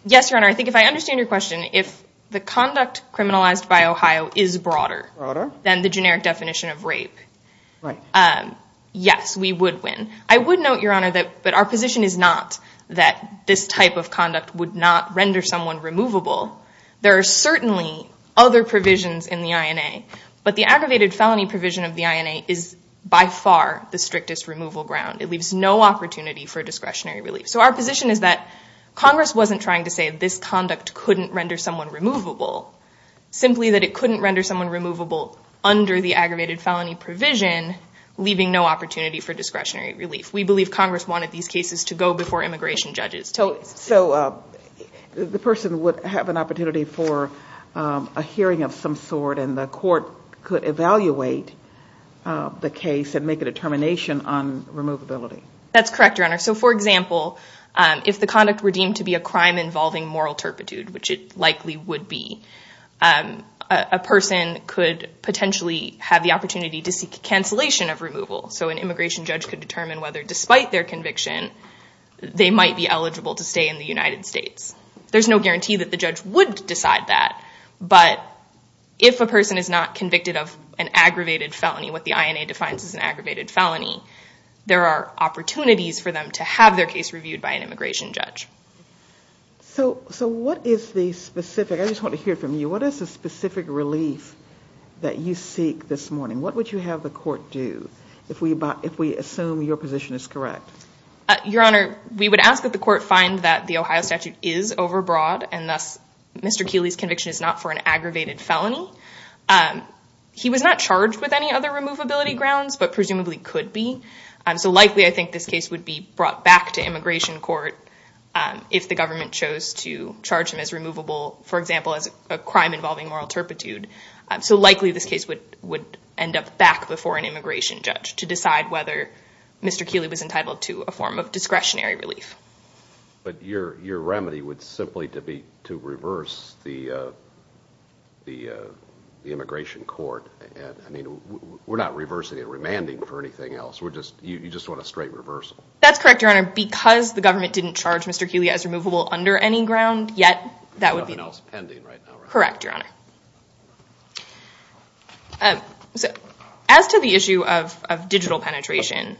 Yes, Your Honor. I think if I understand your question, if the conduct criminalized by Ohio is broader than the generic definition of rape, I would note, Your Honor, that our position is not that this type of conduct couldn't render someone removable. There are certainly other provisions in the INA, but the aggravated felony provision of the INA is by far the strictest removal ground. It leaves no opportunity for discretionary relief. So our position is that Congress wasn't trying to say this conduct couldn't render someone removable, simply that it couldn't render someone removable under a hearing of some sort and the court could evaluate the case and make a determination on removability. That's correct, Your Honor. So, for example, if the conduct were deemed to be a crime involving moral turpitude, which it likely would be, a person could potentially have the opportunity to seek cancellation of removal. So an immigration judge could determine whether, despite their conviction, the person is not convicted of an aggravated felony. What the INA defines as an aggravated felony. There are opportunities for them to have their case reviewed by an immigration judge. So what is the specific, I just want to hear from you, what is the specific relief that you seek this morning? What would you have the court do if we assume your position is correct? Your Honor, we would ask that the person is not for an aggravated felony. He was not charged with any other removability grounds, but presumably could be. So likely I think this case would be brought back to immigration court if the government chose to charge him as removable, for example, as a crime involving moral turpitude. So likely this case would end up back before an immigration judge to decide whether Mr. Keeley should be given discretionary relief. But your remedy would simply be to reverse the immigration court. I mean, we're not reversing and remanding for anything else. You just want a straight reversal. That's correct, Your Honor, because the government didn't charge Mr. Keeley as removable under any ground yet. Correct, Your Honor. As to the issue of digital penetration,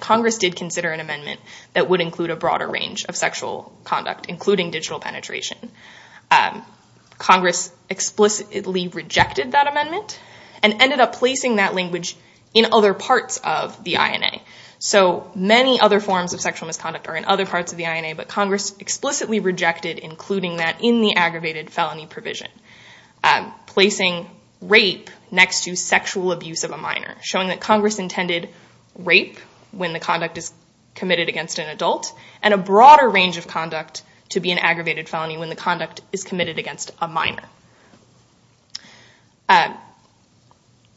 Congress did consider an amendment that would include a broader range of sexual conduct, including digital penetration. Congress explicitly rejected that amendment and ended up placing that language in other parts of the INA. So many other forms of sexual misconduct are in other parts of the INA, but Congress explicitly rejected including that in the aggravated felony provision, placing rape next to sexual abuse of a minor, showing that Congress intended rape when the conduct is committed against an adult, and a broader range of conduct to be an aggravated felony when the conduct is committed against a minor.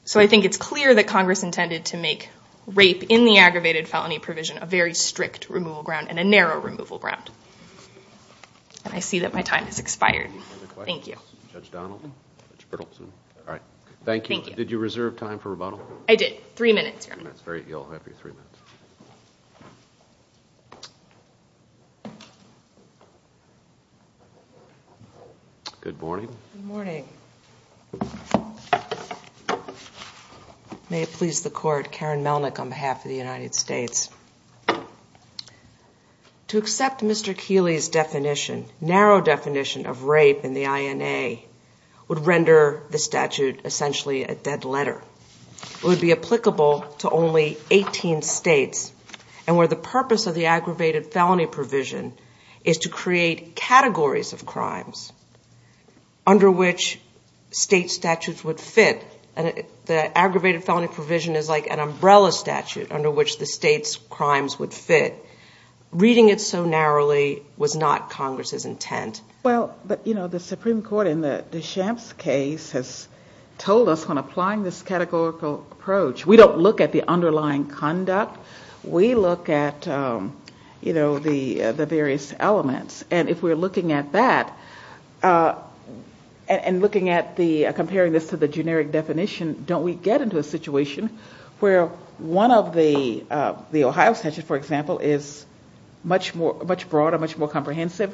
So I think it's clear that Congress intended to make rape in the aggravated felony provision a very strict removal ground and a narrow removal ground. And I see that my time has expired. Thank you. Judge Donaldson. All right. Thank you. Did you reserve time for rebuttal? I did. Three minutes. That's great. You'll have your three minutes. Good morning. Good morning. May it please the Court, Karen Melnick on behalf of the United States. To accept Mr. Keeley's definition, narrow definition of rape in the INA would render the statute essentially a dead letter. It would be applicable to only 18 states. And where the purpose of the aggravated felony provision is to create categories of crimes under which state statutes would fit. And the aggravated felony provision is like an umbrella statute under which the state's crimes would fit. Reading it so narrowly was not Congress's intent. Well, but, you know, the Supreme Court in the Shamps case has told us when applying this categorical approach, we don't look at the underlying conduct. We look at, you know, the various elements. And if we're looking at that and looking at the, comparing this to the generic definition, don't we get into a situation where one of the Ohio statutes, for example, is much more, much broader, much more comprehensive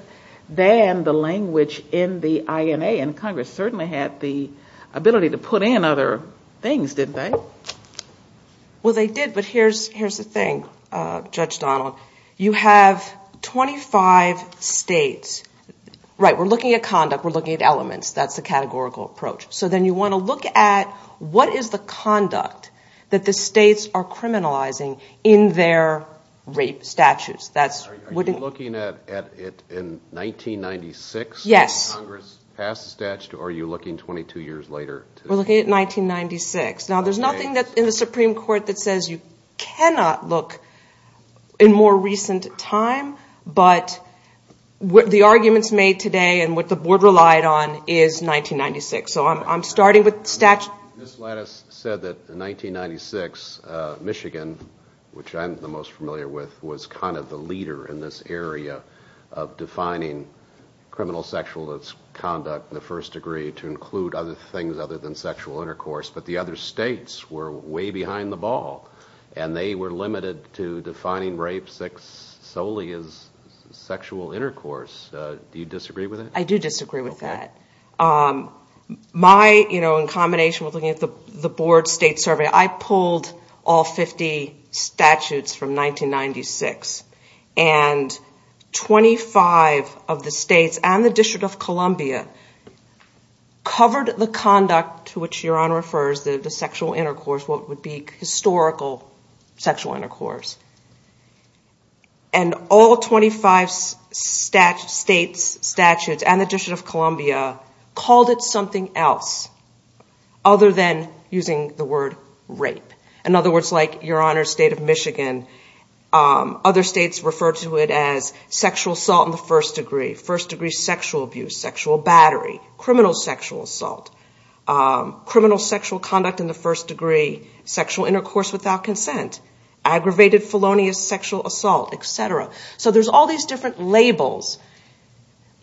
than the language in the INA. And Congress certainly had the authority and other things, didn't they? Well, they did. But here's the thing, Judge Donald. You have 25 states. Right. We're looking at conduct. We're looking at elements. That's a categorical approach. So then you want to look at what is the conduct that the states are criminalizing in their rape statutes. Are you looking at it in 1996? Yes. Congress passed a statute or are you looking 22 years later? I'm looking at 1996. Now, there's nothing that's in the Supreme Court that says you cannot look in more recent time. But the arguments made today and what the board relied on is 1996. So I'm starting with statute. Ms. Lattis said that in 1996, Michigan, which I'm the most familiar with, was kind of the leader in this area of defining criminal sexual conduct in the first degree to include other things other than sexual intercourse. But the other states were way behind the ball and they were limited to defining rape solely as sexual intercourse. Do you disagree with that? I do disagree with that. My, you know, in combination with the board state survey, I pulled all 50 statutes from 1996. And 25 of the states and the District of Columbia covered the conduct to which Your Honor refers, the sexual intercourse, what would be historical sexual intercourse. And all 25 statutes and the District of Columbia called it something else other than using the word rape. In other words, like Your Honor's state of Michigan, other states referred to it as sexual assault in the first degree, first degree sexual abuse, sexual battery, criminal sexual assault, criminal sexual conduct in the first degree, sexual intercourse without consent, aggravated felonious sexual assault, et cetera. So there's all these different labels.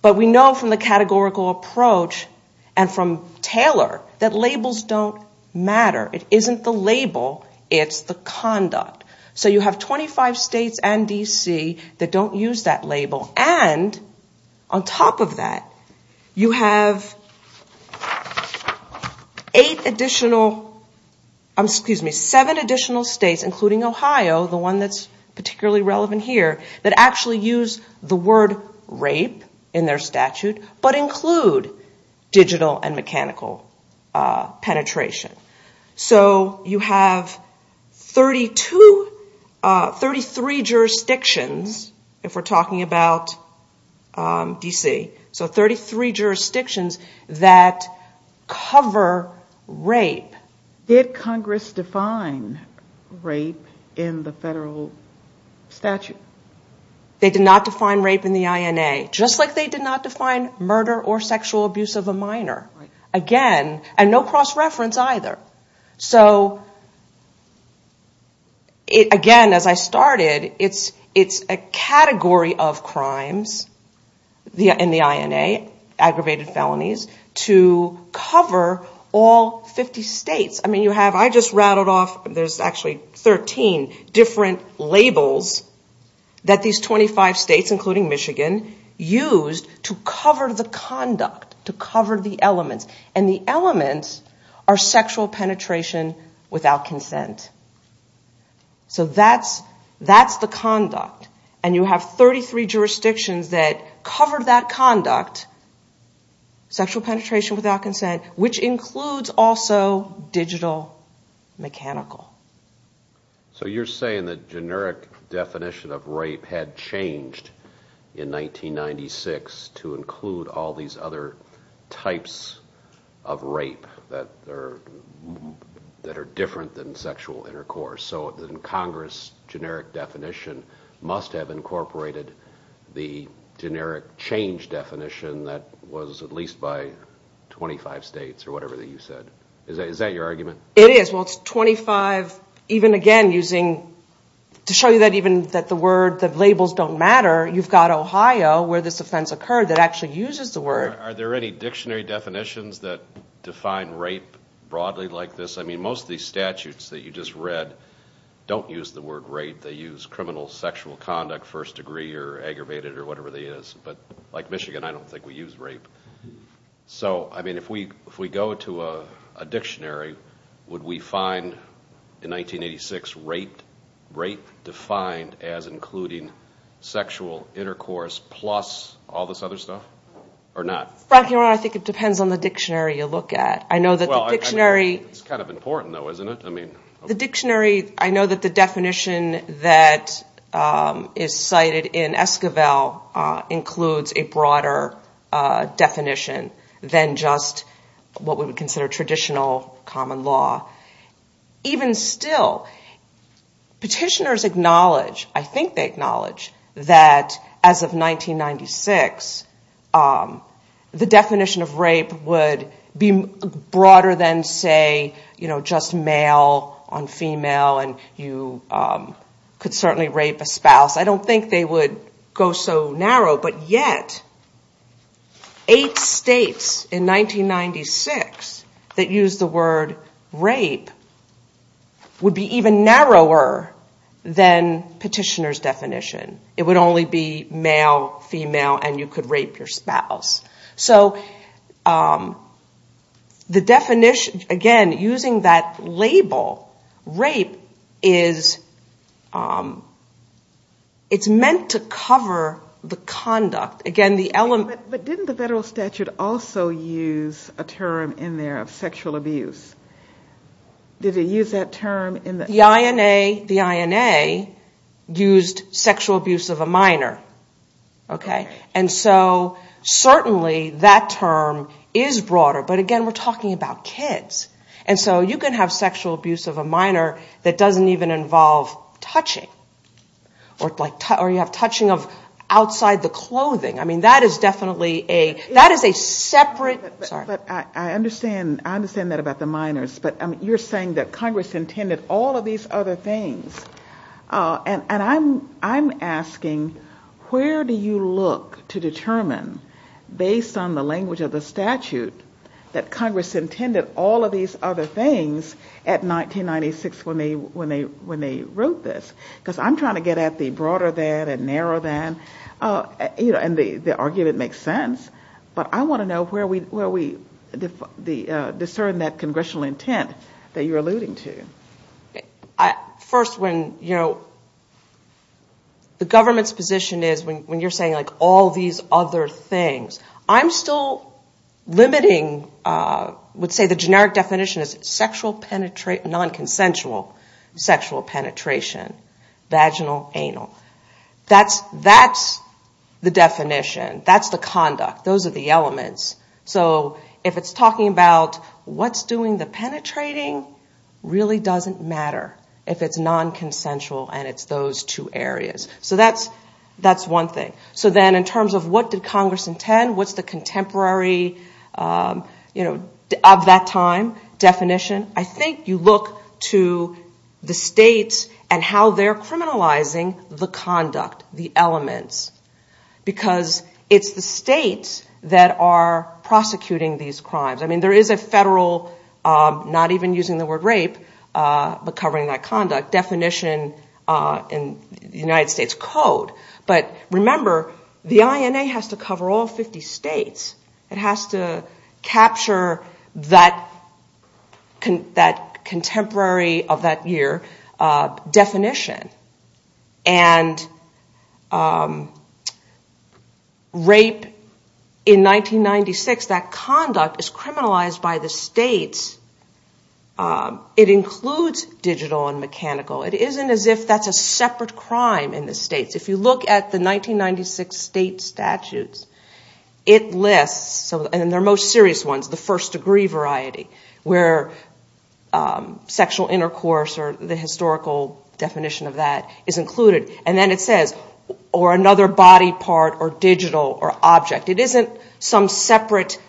But we know from the categorical approach and from Taylor that labels don't matter. It isn't the label. It's the conduct. So you have 25 states and D.C. that don't use that label. And on top of that, you have eight additional excuse me, seven additional states, including Ohio, the one that's particularly relevant here, that actually use the word rape in their statute, but include digital and mechanical penetration. So you have 32, 33 jurisdictions if we're talking about D.C. So 33 jurisdictions that cover rape. Did Congress define rape in the federal statute? They did not define rape in the INA, just like they did not define murder or sexual abuse of a minor. Again, and no cross reference either. So again, as I started, it's a category of crimes in the INA, aggravated rape, and the crimes in the INA, and criminal conduct. again, you have 20 states the word rape, and the digital penetration, and digital penetration, sexual penetration without consent, which includes also digital mechanical. So you're saying that generic definition of rape had changed in 1996 to include all these other types of rape that are different than sexual intercourse. So in Congress, generic definition must have incorporated the generic change definition that was at least by 25 states, or whatever you said. Is that your argument? It is. To show you that the labels don't matter, you've got Ohio, where this offense occurred, that actually uses the word. Are there any dictionary definitions that define rape broadly like this? Most of these statutes that you just read don't use the word rape. They use criminal sexual conduct first degree or aggravated or whatever it is. Like Michigan, I don't think we use rape. If we go to a dictionary, would we use rape? It depends on the dictionary you look at. It's kind of important though, isn't it? I know that the definition that is cited in Esquivel includes a broader definition than just what we would consider traditional common law. Even still, petitioners acknowledge, as of 1996, the definition of rape would be broader than, say, just male on female and you could certainly rape a spouse. I don't think they would go so narrow, but yet eight states in 1996 that used the word rape would be even narrower than petitioners definition. It would only be male, female, and you could rape your spouse. So, the definition, again, using that label, rape, is, it's meant to cover the conduct. Again, the element But didn't the federal statute also use a term in there, sexual abuse? Did it use sexual abuse of a minor? Okay. And so, certainly, that term is broader, but again, we're talking about kids. And so, you can have sexual abuse of a minor that doesn't even involve touching, or you have touching of outside the clothing. I mean, that is definitely a separate I understand that about the minors, but you're saying that Congress intended all of these other things. And I'm asking, where do you look to determine, based on the language of the statute, that Congress intended all of these other things at 1996 when they wrote this? Because I'm trying to get at the broader than and narrow than, and the argument makes sense, but I want to know where we discern that Congressional intent that you're alluding to. First, when, you know, the government's position is, when you're saying all these other things, I'm still limiting, I would say the generic definition is sexual nonconsensual sexual penetration, vaginal, anal. That's the definition. That's the conduct. Those are the elements. So if it's talking about what's doing the penetrating, really doesn't matter if it's nonconsensual and it's those two areas. So that's one thing. So then in terms of what did Congress intend, what's the contemporary, you know, at that time definition, I think you look to the states and how they're criminalizing the conduct, the elements. Because it's the states that are prosecuting these crimes. I mean, there is a federal, not even using the word rape, but covering that conduct definition in the United States code. But remember, the INA has to cover all 50 states. It has to capture that contemporary of that year definition. And rape in 1996, that conduct is criminalized by the states. It includes digital and mechanical. It isn't as if that's a separate crime in the states. If you look at the 1996 state statutes, it lists, and their most serious ones, the first degree variety, where sexual intercourse or the historical definition of that is included. And then it says, or another body part or digital or object. It isn't some separate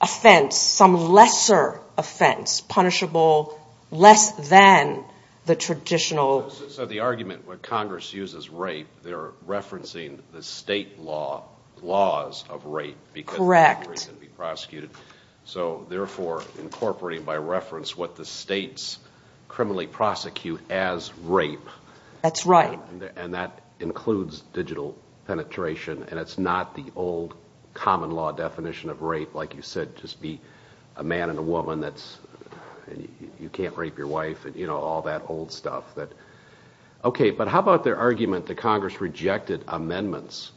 offense, some lesser offense, punishable less than the traditional. So the argument, when Congress uses rape, they're referencing the state laws of rape. So therefore incorporating by reference what the states criminally prosecute as rape. And that includes digital penetration, and it's not the old common law definition of rape, like you said, just be a man and a woman, you can't rape your wife, all that old stuff. Okay. But how about their argument that Congress rejected amendments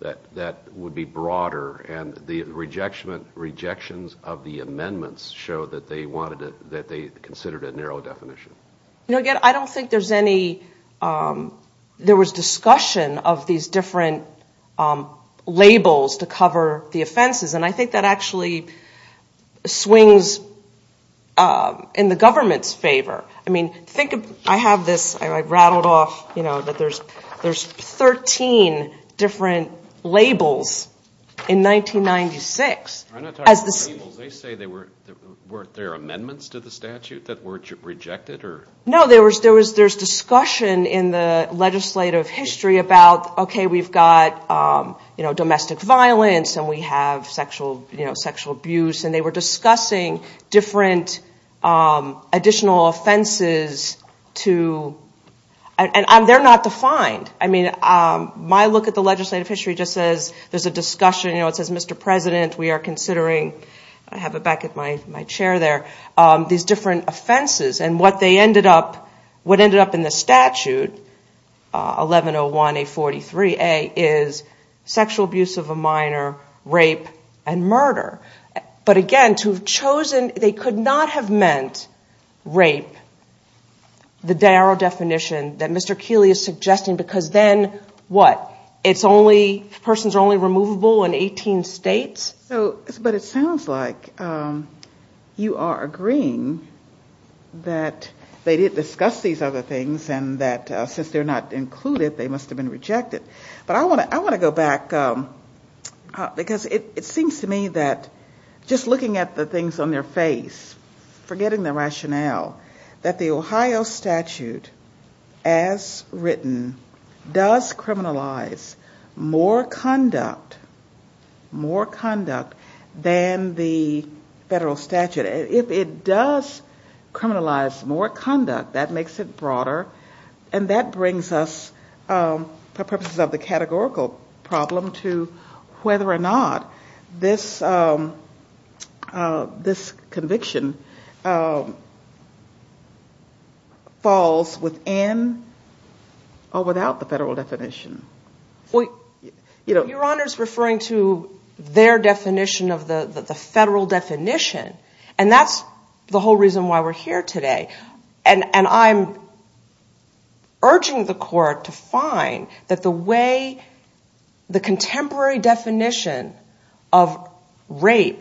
that would be broader and the rejections of the amendments show that they considered a narrow definition? I don't think there was any discussion of these different labels to cover the offenses, and I think that actually swings in the government's favor. I mean, think of, I have this, I rattled off, you know, that there's 13 different labels in 1996. I'm not talking about labels, they say weren't there amendments to the statute that were rejected? No, there was discussion in the legislative history about okay, we've got domestic violence and we have sexual abuse, and they were discussing different additional offenses to, and they're not defined. I mean, my look at the legislative history just says, there's a discussion, it says, Mr. President, we are considering these different offenses, and what ended up in the statute, 1101A43A, is sexual abuse of a minor, rape, and murder. But again, to have chosen, they could not have meant rape, the definition that Mr. Keeley is suggesting, because then what? It's only, persons are only removable in 18 states? But it sounds like you are agreeing that they did discuss these other things, and that since they're not included, they must have been rejected. But I want to go back, because it seems to me that just looking at the things on their face, forgetting their rationale, that the Ohio statute as written does criminalize more conduct than the federal statute. If it does criminalize more conduct, that makes it broader, and that brings us, for purposes categorical problem, to whether or not this conviction falls within or without the federal definition. Your Honor's response was that they were referring to their definition of the federal definition, and that's the whole reason why we're here today. And I'm urging the court to find that the way the contemporary definition of rape,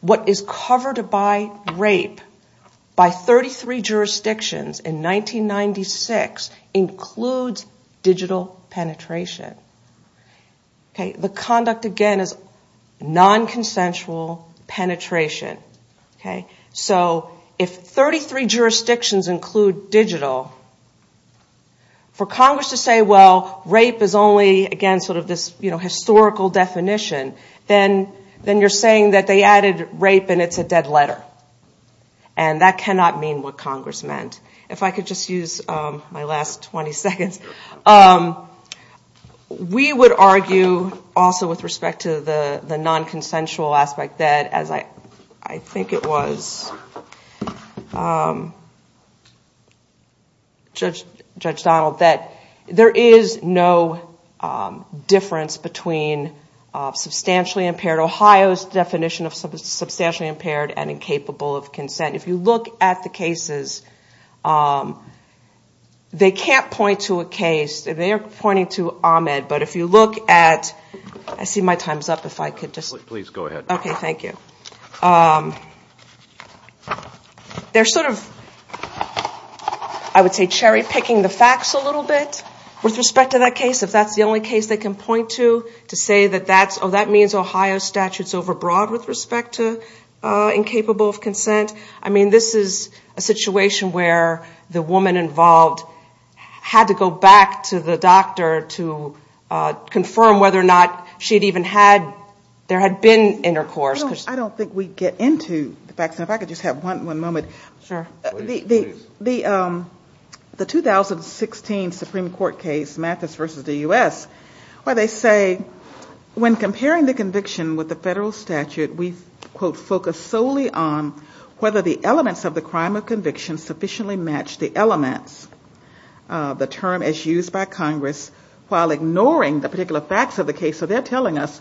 what is covered by rape, by 33 jurisdictions in 1996 includes digital penetration. The conduct, again, is non-consensual penetration. So, if 33 jurisdictions include digital, for Congress to say, well, rape is only, again, sort of this historical definition, then you're saying that they added rape and it's a dead letter, and that is not true. We would argue, also, with respect to the non-consensual aspect, that, as I think it was, Judge Donald, that there is no difference between substantially impaired, Ohio's definition of substantially impaired and incapable of consent. If you look at the cases, they can't point to a case, they're pointing to Ahmed, but if you look at, I see my time's up, if I could just... Please go ahead. Okay, thank you. They're sort of, I would say, cherry-picking the facts a little bit with respect to that case, if that's the only case they can point to, to say that, oh, that means Ohio's statute is overbroad with respect to incapable of consent. This is a situation where the woman involved had to go back to the doctor to confirm whether or not there had been intercourse. I don't think we get into the facts. If I could just have one moment. Sure. The 2016 Supreme Court case, Mathis versus the U.S., where they say, when comparing the conviction with the federal statute, we focus solely on whether the elements of the crime of conviction sufficiently match the elements, the term as used by Congress, while ignoring the particular facts of the case. So they're telling us,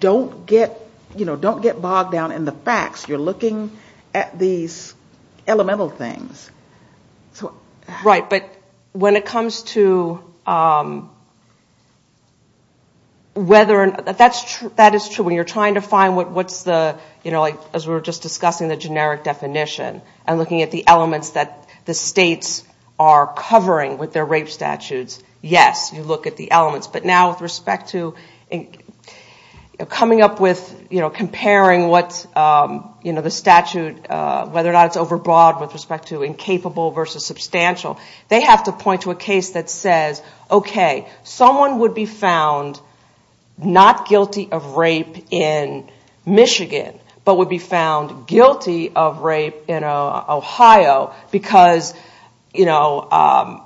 don't get bogged down in the facts. You're looking at these elemental things. Right. But when it comes to whether that is true, when you're trying to find what is the generic definition and looking at the elements that the states are covering with their rape statutes, yes, you look at the elements. But now with respect to coming up with comparing the statute, whether that's overbroad with respect to incapable versus substantial, they have to point to a case that says, okay, someone would be found not guilty of rape in Michigan, but would be found guilty of rape in Ohio, because, you know,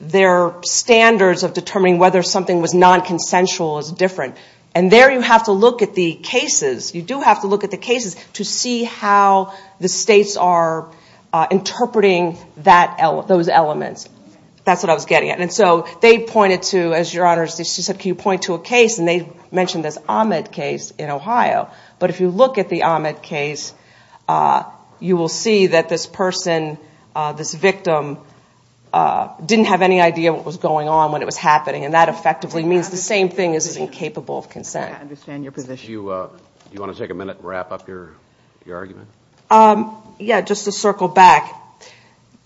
their standards of determining whether something was nonconsensual is different. And there you have to look at the cases, you do have to look at the cases to see how the states are interpreting those elements. That's what I was getting at. And so they pointed to, as your Honor said, can you point to a case, and they mentioned this Ahmed case in Ohio. But if you look at the Ahmed case, you will see that this person, this victim, didn't have any idea what was going on.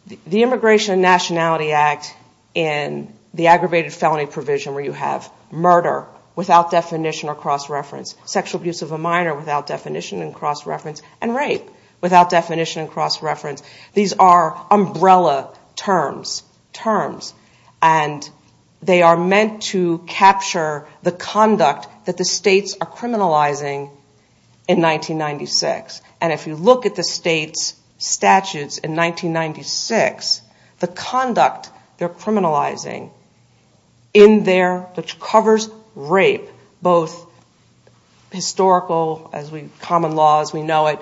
And the immigration nationality act in the aggravated felony provision, where you have murder without definition or cross-reference, sexual abuse of a minor without definition and cross-reference, and rape without definition and cross-reference, these are umbrella terms. And they are meant to capture the conduct that the states are criminalizing in 1996. And if you look at the state's statutes in 1996, the conduct they're criminalizing in there which covers rape, both historical, as we, common laws, we know it,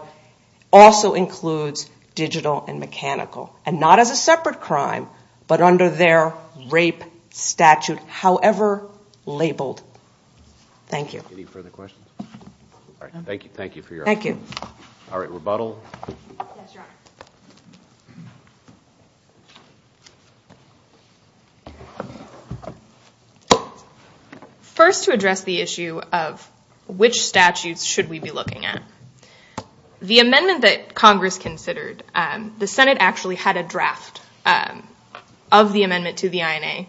also includes digital and mechanical. And not as a separate crime, but under their rape statute, however labeled. Thank you. Any further questions? Thank you. Thank you for your time. Thank you. All right, rebuttal? Yes, Your Honor. First to address the issue of which statutes should we be looking at. The amendment that Congress considered, the Senate actually had a draft of the amendment to the INA,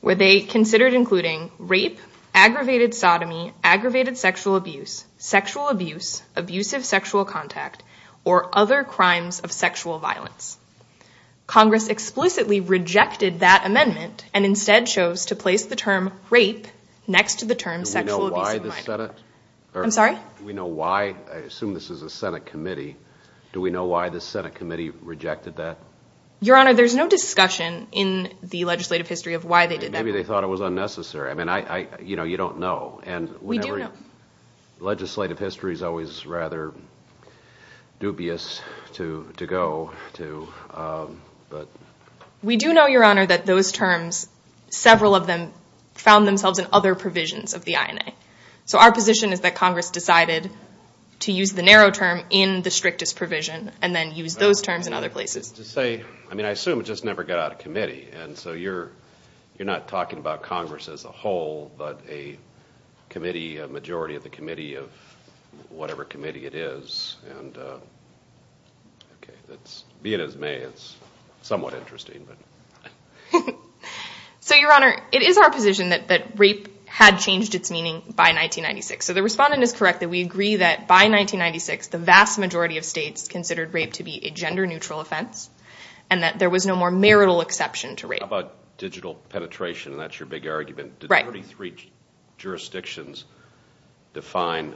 where they considered including rape, aggravated sodomy, aggravated sexual abuse, sexual abuse, abusive sexual contact, or other crimes of sexual violence. Congress explicitly rejected that amendment, and instead chose to place the term rape next to the term sexual abuse. I'm sorry? I assume this is a Senate committee. Do we know why the Senate committee rejected that? Your Honor, there's no discussion in the legislative history of why they did that. Maybe they thought it was unnecessary. You don't know. Legislative history is always rather dubious to go to. We do know, Your Honor, that those terms, several of them, found themselves in other provisions of the INA. Our position is that Congress decided to use the narrow term in the strictest provision. I assume it just never got out of committee. You're not talking about Congress as a whole, but a majority of the committee of whatever committee it is. Being as may, it's somewhat interesting. So, Your Honor, it is our position that rape had changed its meaning by 1996. So the respondent is correct that we agree that by 1996, the vast majority of states considered rape to be a gender neutral offense and that there was no more marital exception to rape. How about digital penetration, and that's your big argument? Did 33 jurisdictions define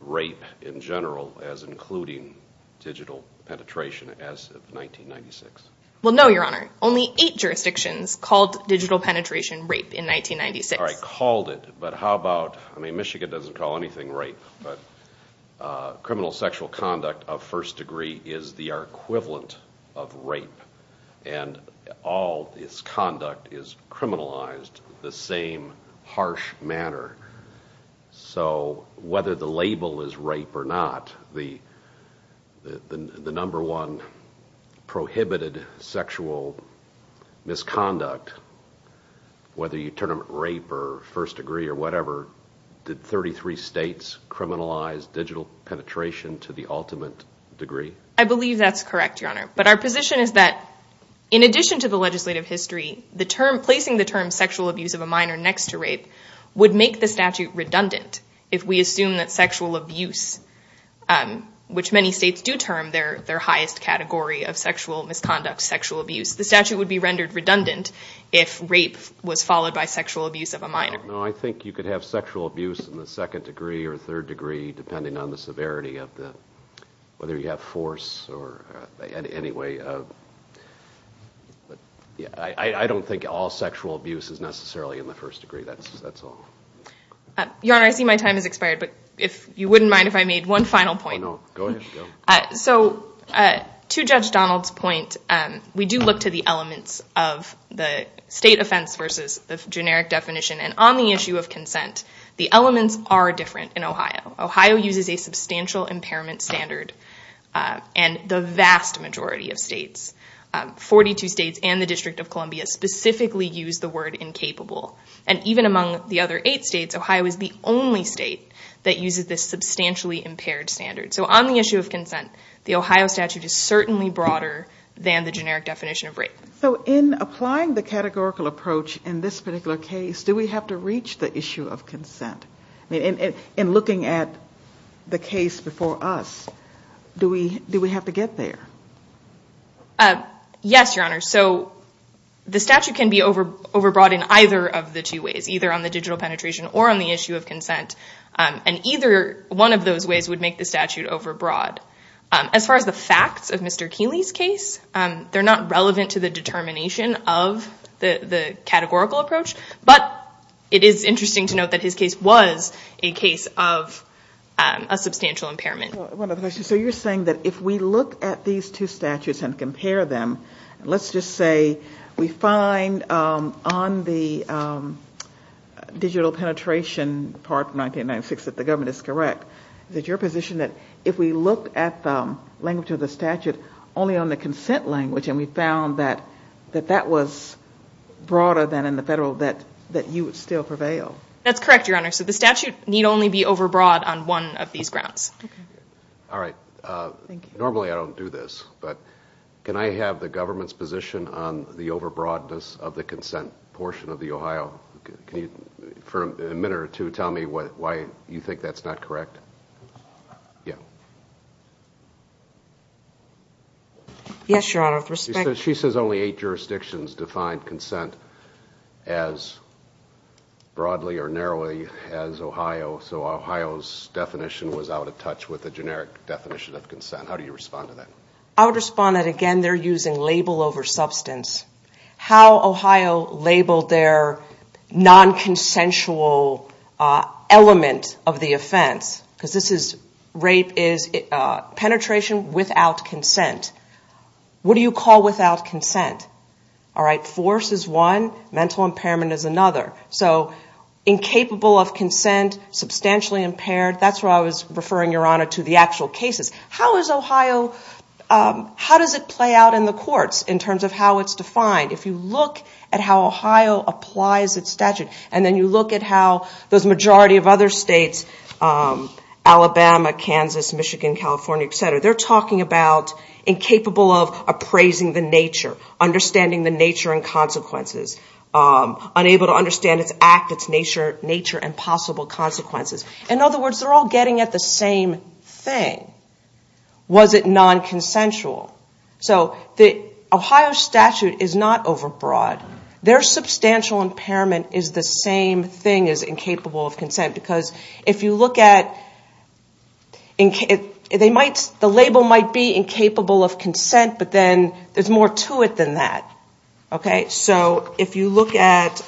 rape in general as including digital penetration as no, Your Honor. Only 8 jurisdictions called digital penetration rape in 1996. All right, called it, but how about, I mean, Michigan did say sexual misconduct is criminalized the same harsh manner. So, whether the label is rape or not, the number one prohibited sexual misconduct, whether you term it rape or first degree or whatever, did 33 states criminalize digital penetration to the ultimate degree? I believe that's correct, Your Honor, but our position is that in addition to the legislative history, placing the term sexual abuse of a minor next to rape would make the statute redundant if we assume that sexual abuse, which many states do term their highest category of sexual misconduct, sexual abuse, the statute would be rendered redundant if rape was followed by sexual abuse of a minor. I think you could have sexual abuse in the second degree or third degree, depending on the severity of the, whether you have force or, anyway, I don't think all sexual abuse is necessarily in the first I think it's important to look at the elements of the state offense versus the generic definition. On the issue of consent, the elements are different in Ohio. Ohio uses a substantial impairment standard and the vast majority of states, 42 states and the District of Columbia specifically use the word incapable. Even among the other eight states, Ohio is the only state that uses this substantially impaired standard. On the issue of consent, the Ohio statute is certainly broader than the generic definition of consent. The statute is broad in either of the two ways, either on the digital penetration or on the issue of Either one of those ways would make the statute overbroad. As far as the facts of Mr. Keeley's case, they're not relevant to the determination of the We can look at these two statutes and compare them. Let's just say we find on the digital penetration part 1996 that the government is correct. Is your position that if we look at the language of the statute only on the consent language and we found that that was broader than the federal that you would still prevail? That's correct. The statute need only be overbroad on one of these grounds. Normally I don't do this, but can I have the government's position on the overbroadness of the consent portion of the Ohio? For a minute or two. Can you explain to me why you think that's not correct? Yes, your honor. She says only eight jurisdictions define consent as broadly or narrowly as Ohio, so Ohio's definition was out of touch with the generic definition of consent. How do you respond to that? Again, they're using label over substance. How Ohio labeled their non-consensual element of the offense, because this is rape is penetration without consent. What do you call without consent? Force is one, mental impairment is another. Incapable of consent, substantially impaired, that's where I was referring to the actual cases. How is Ohio, how does it play out in the courts in terms of how it's defined? If you look at how Ohio applies its statute and then you look at how those majority of other states, Alabama, Kansas, Michigan, California, et cetera, they're talking about incapable of appraising the nature, understanding the nature and consequences, unable to understand its act, its nature and possible consequences. In other words, they're all getting at the same thing. Was it nonconsensual? So the Ohio statute is not overbroad. Their substantial impairment is the same thing as incapable of consent, because if you look at the label might be incapable of consent, but then there's more to it than that. So if you look at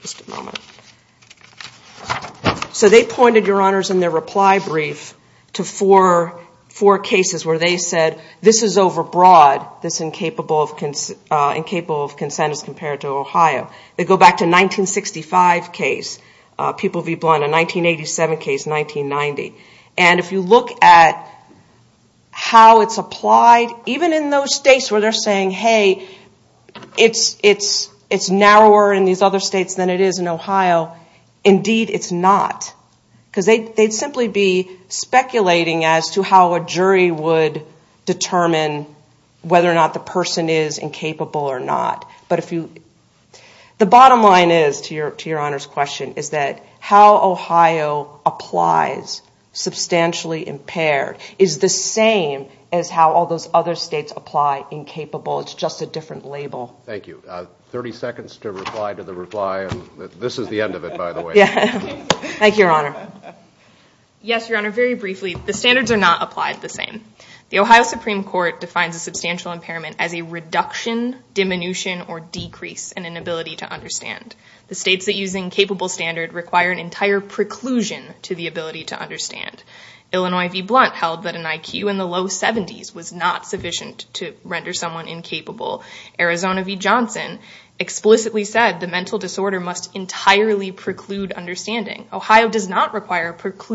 just a moment. So they pointed, Your Honors, in their reply brief to four cases where they said this is overbroad that's incapable of consent as compared to Ohio. They go back to 1965 case. People will be blind. A 1987 case, and they're saying it's narrower in these other states than it is in Ohio. Indeed, it's not. They'd simply be speculating as to how a jury would determine whether or not the person is incapable or not. The bottom line is, to Your Honors' question, is that how Ohio applies substantially impaired is the same as how all those other states apply incapable. It's just a different label. Thank you. 30 seconds to reply to the reply. This is the end of it, by the way. Thank you, Your Honor. Yes, Your Honor, very briefly, the standards are not applied the same. The Ohio Supreme Court defines a substantial a reduction, diminution, or decrease in an ability to understand. The states that use incapable standard require an entire preclusion to the ability to understand. Illinois v. Blount held that an IQ in the low 70s was not sufficient to render someone incapable. Arizona v. Blount held that an IQ in the low 70s was not sufficient to render someone The states that use incapable standards require an entire preclusion to the ability to understand. The states that use incapable standards require an entire preclusion to the ability to Thank you.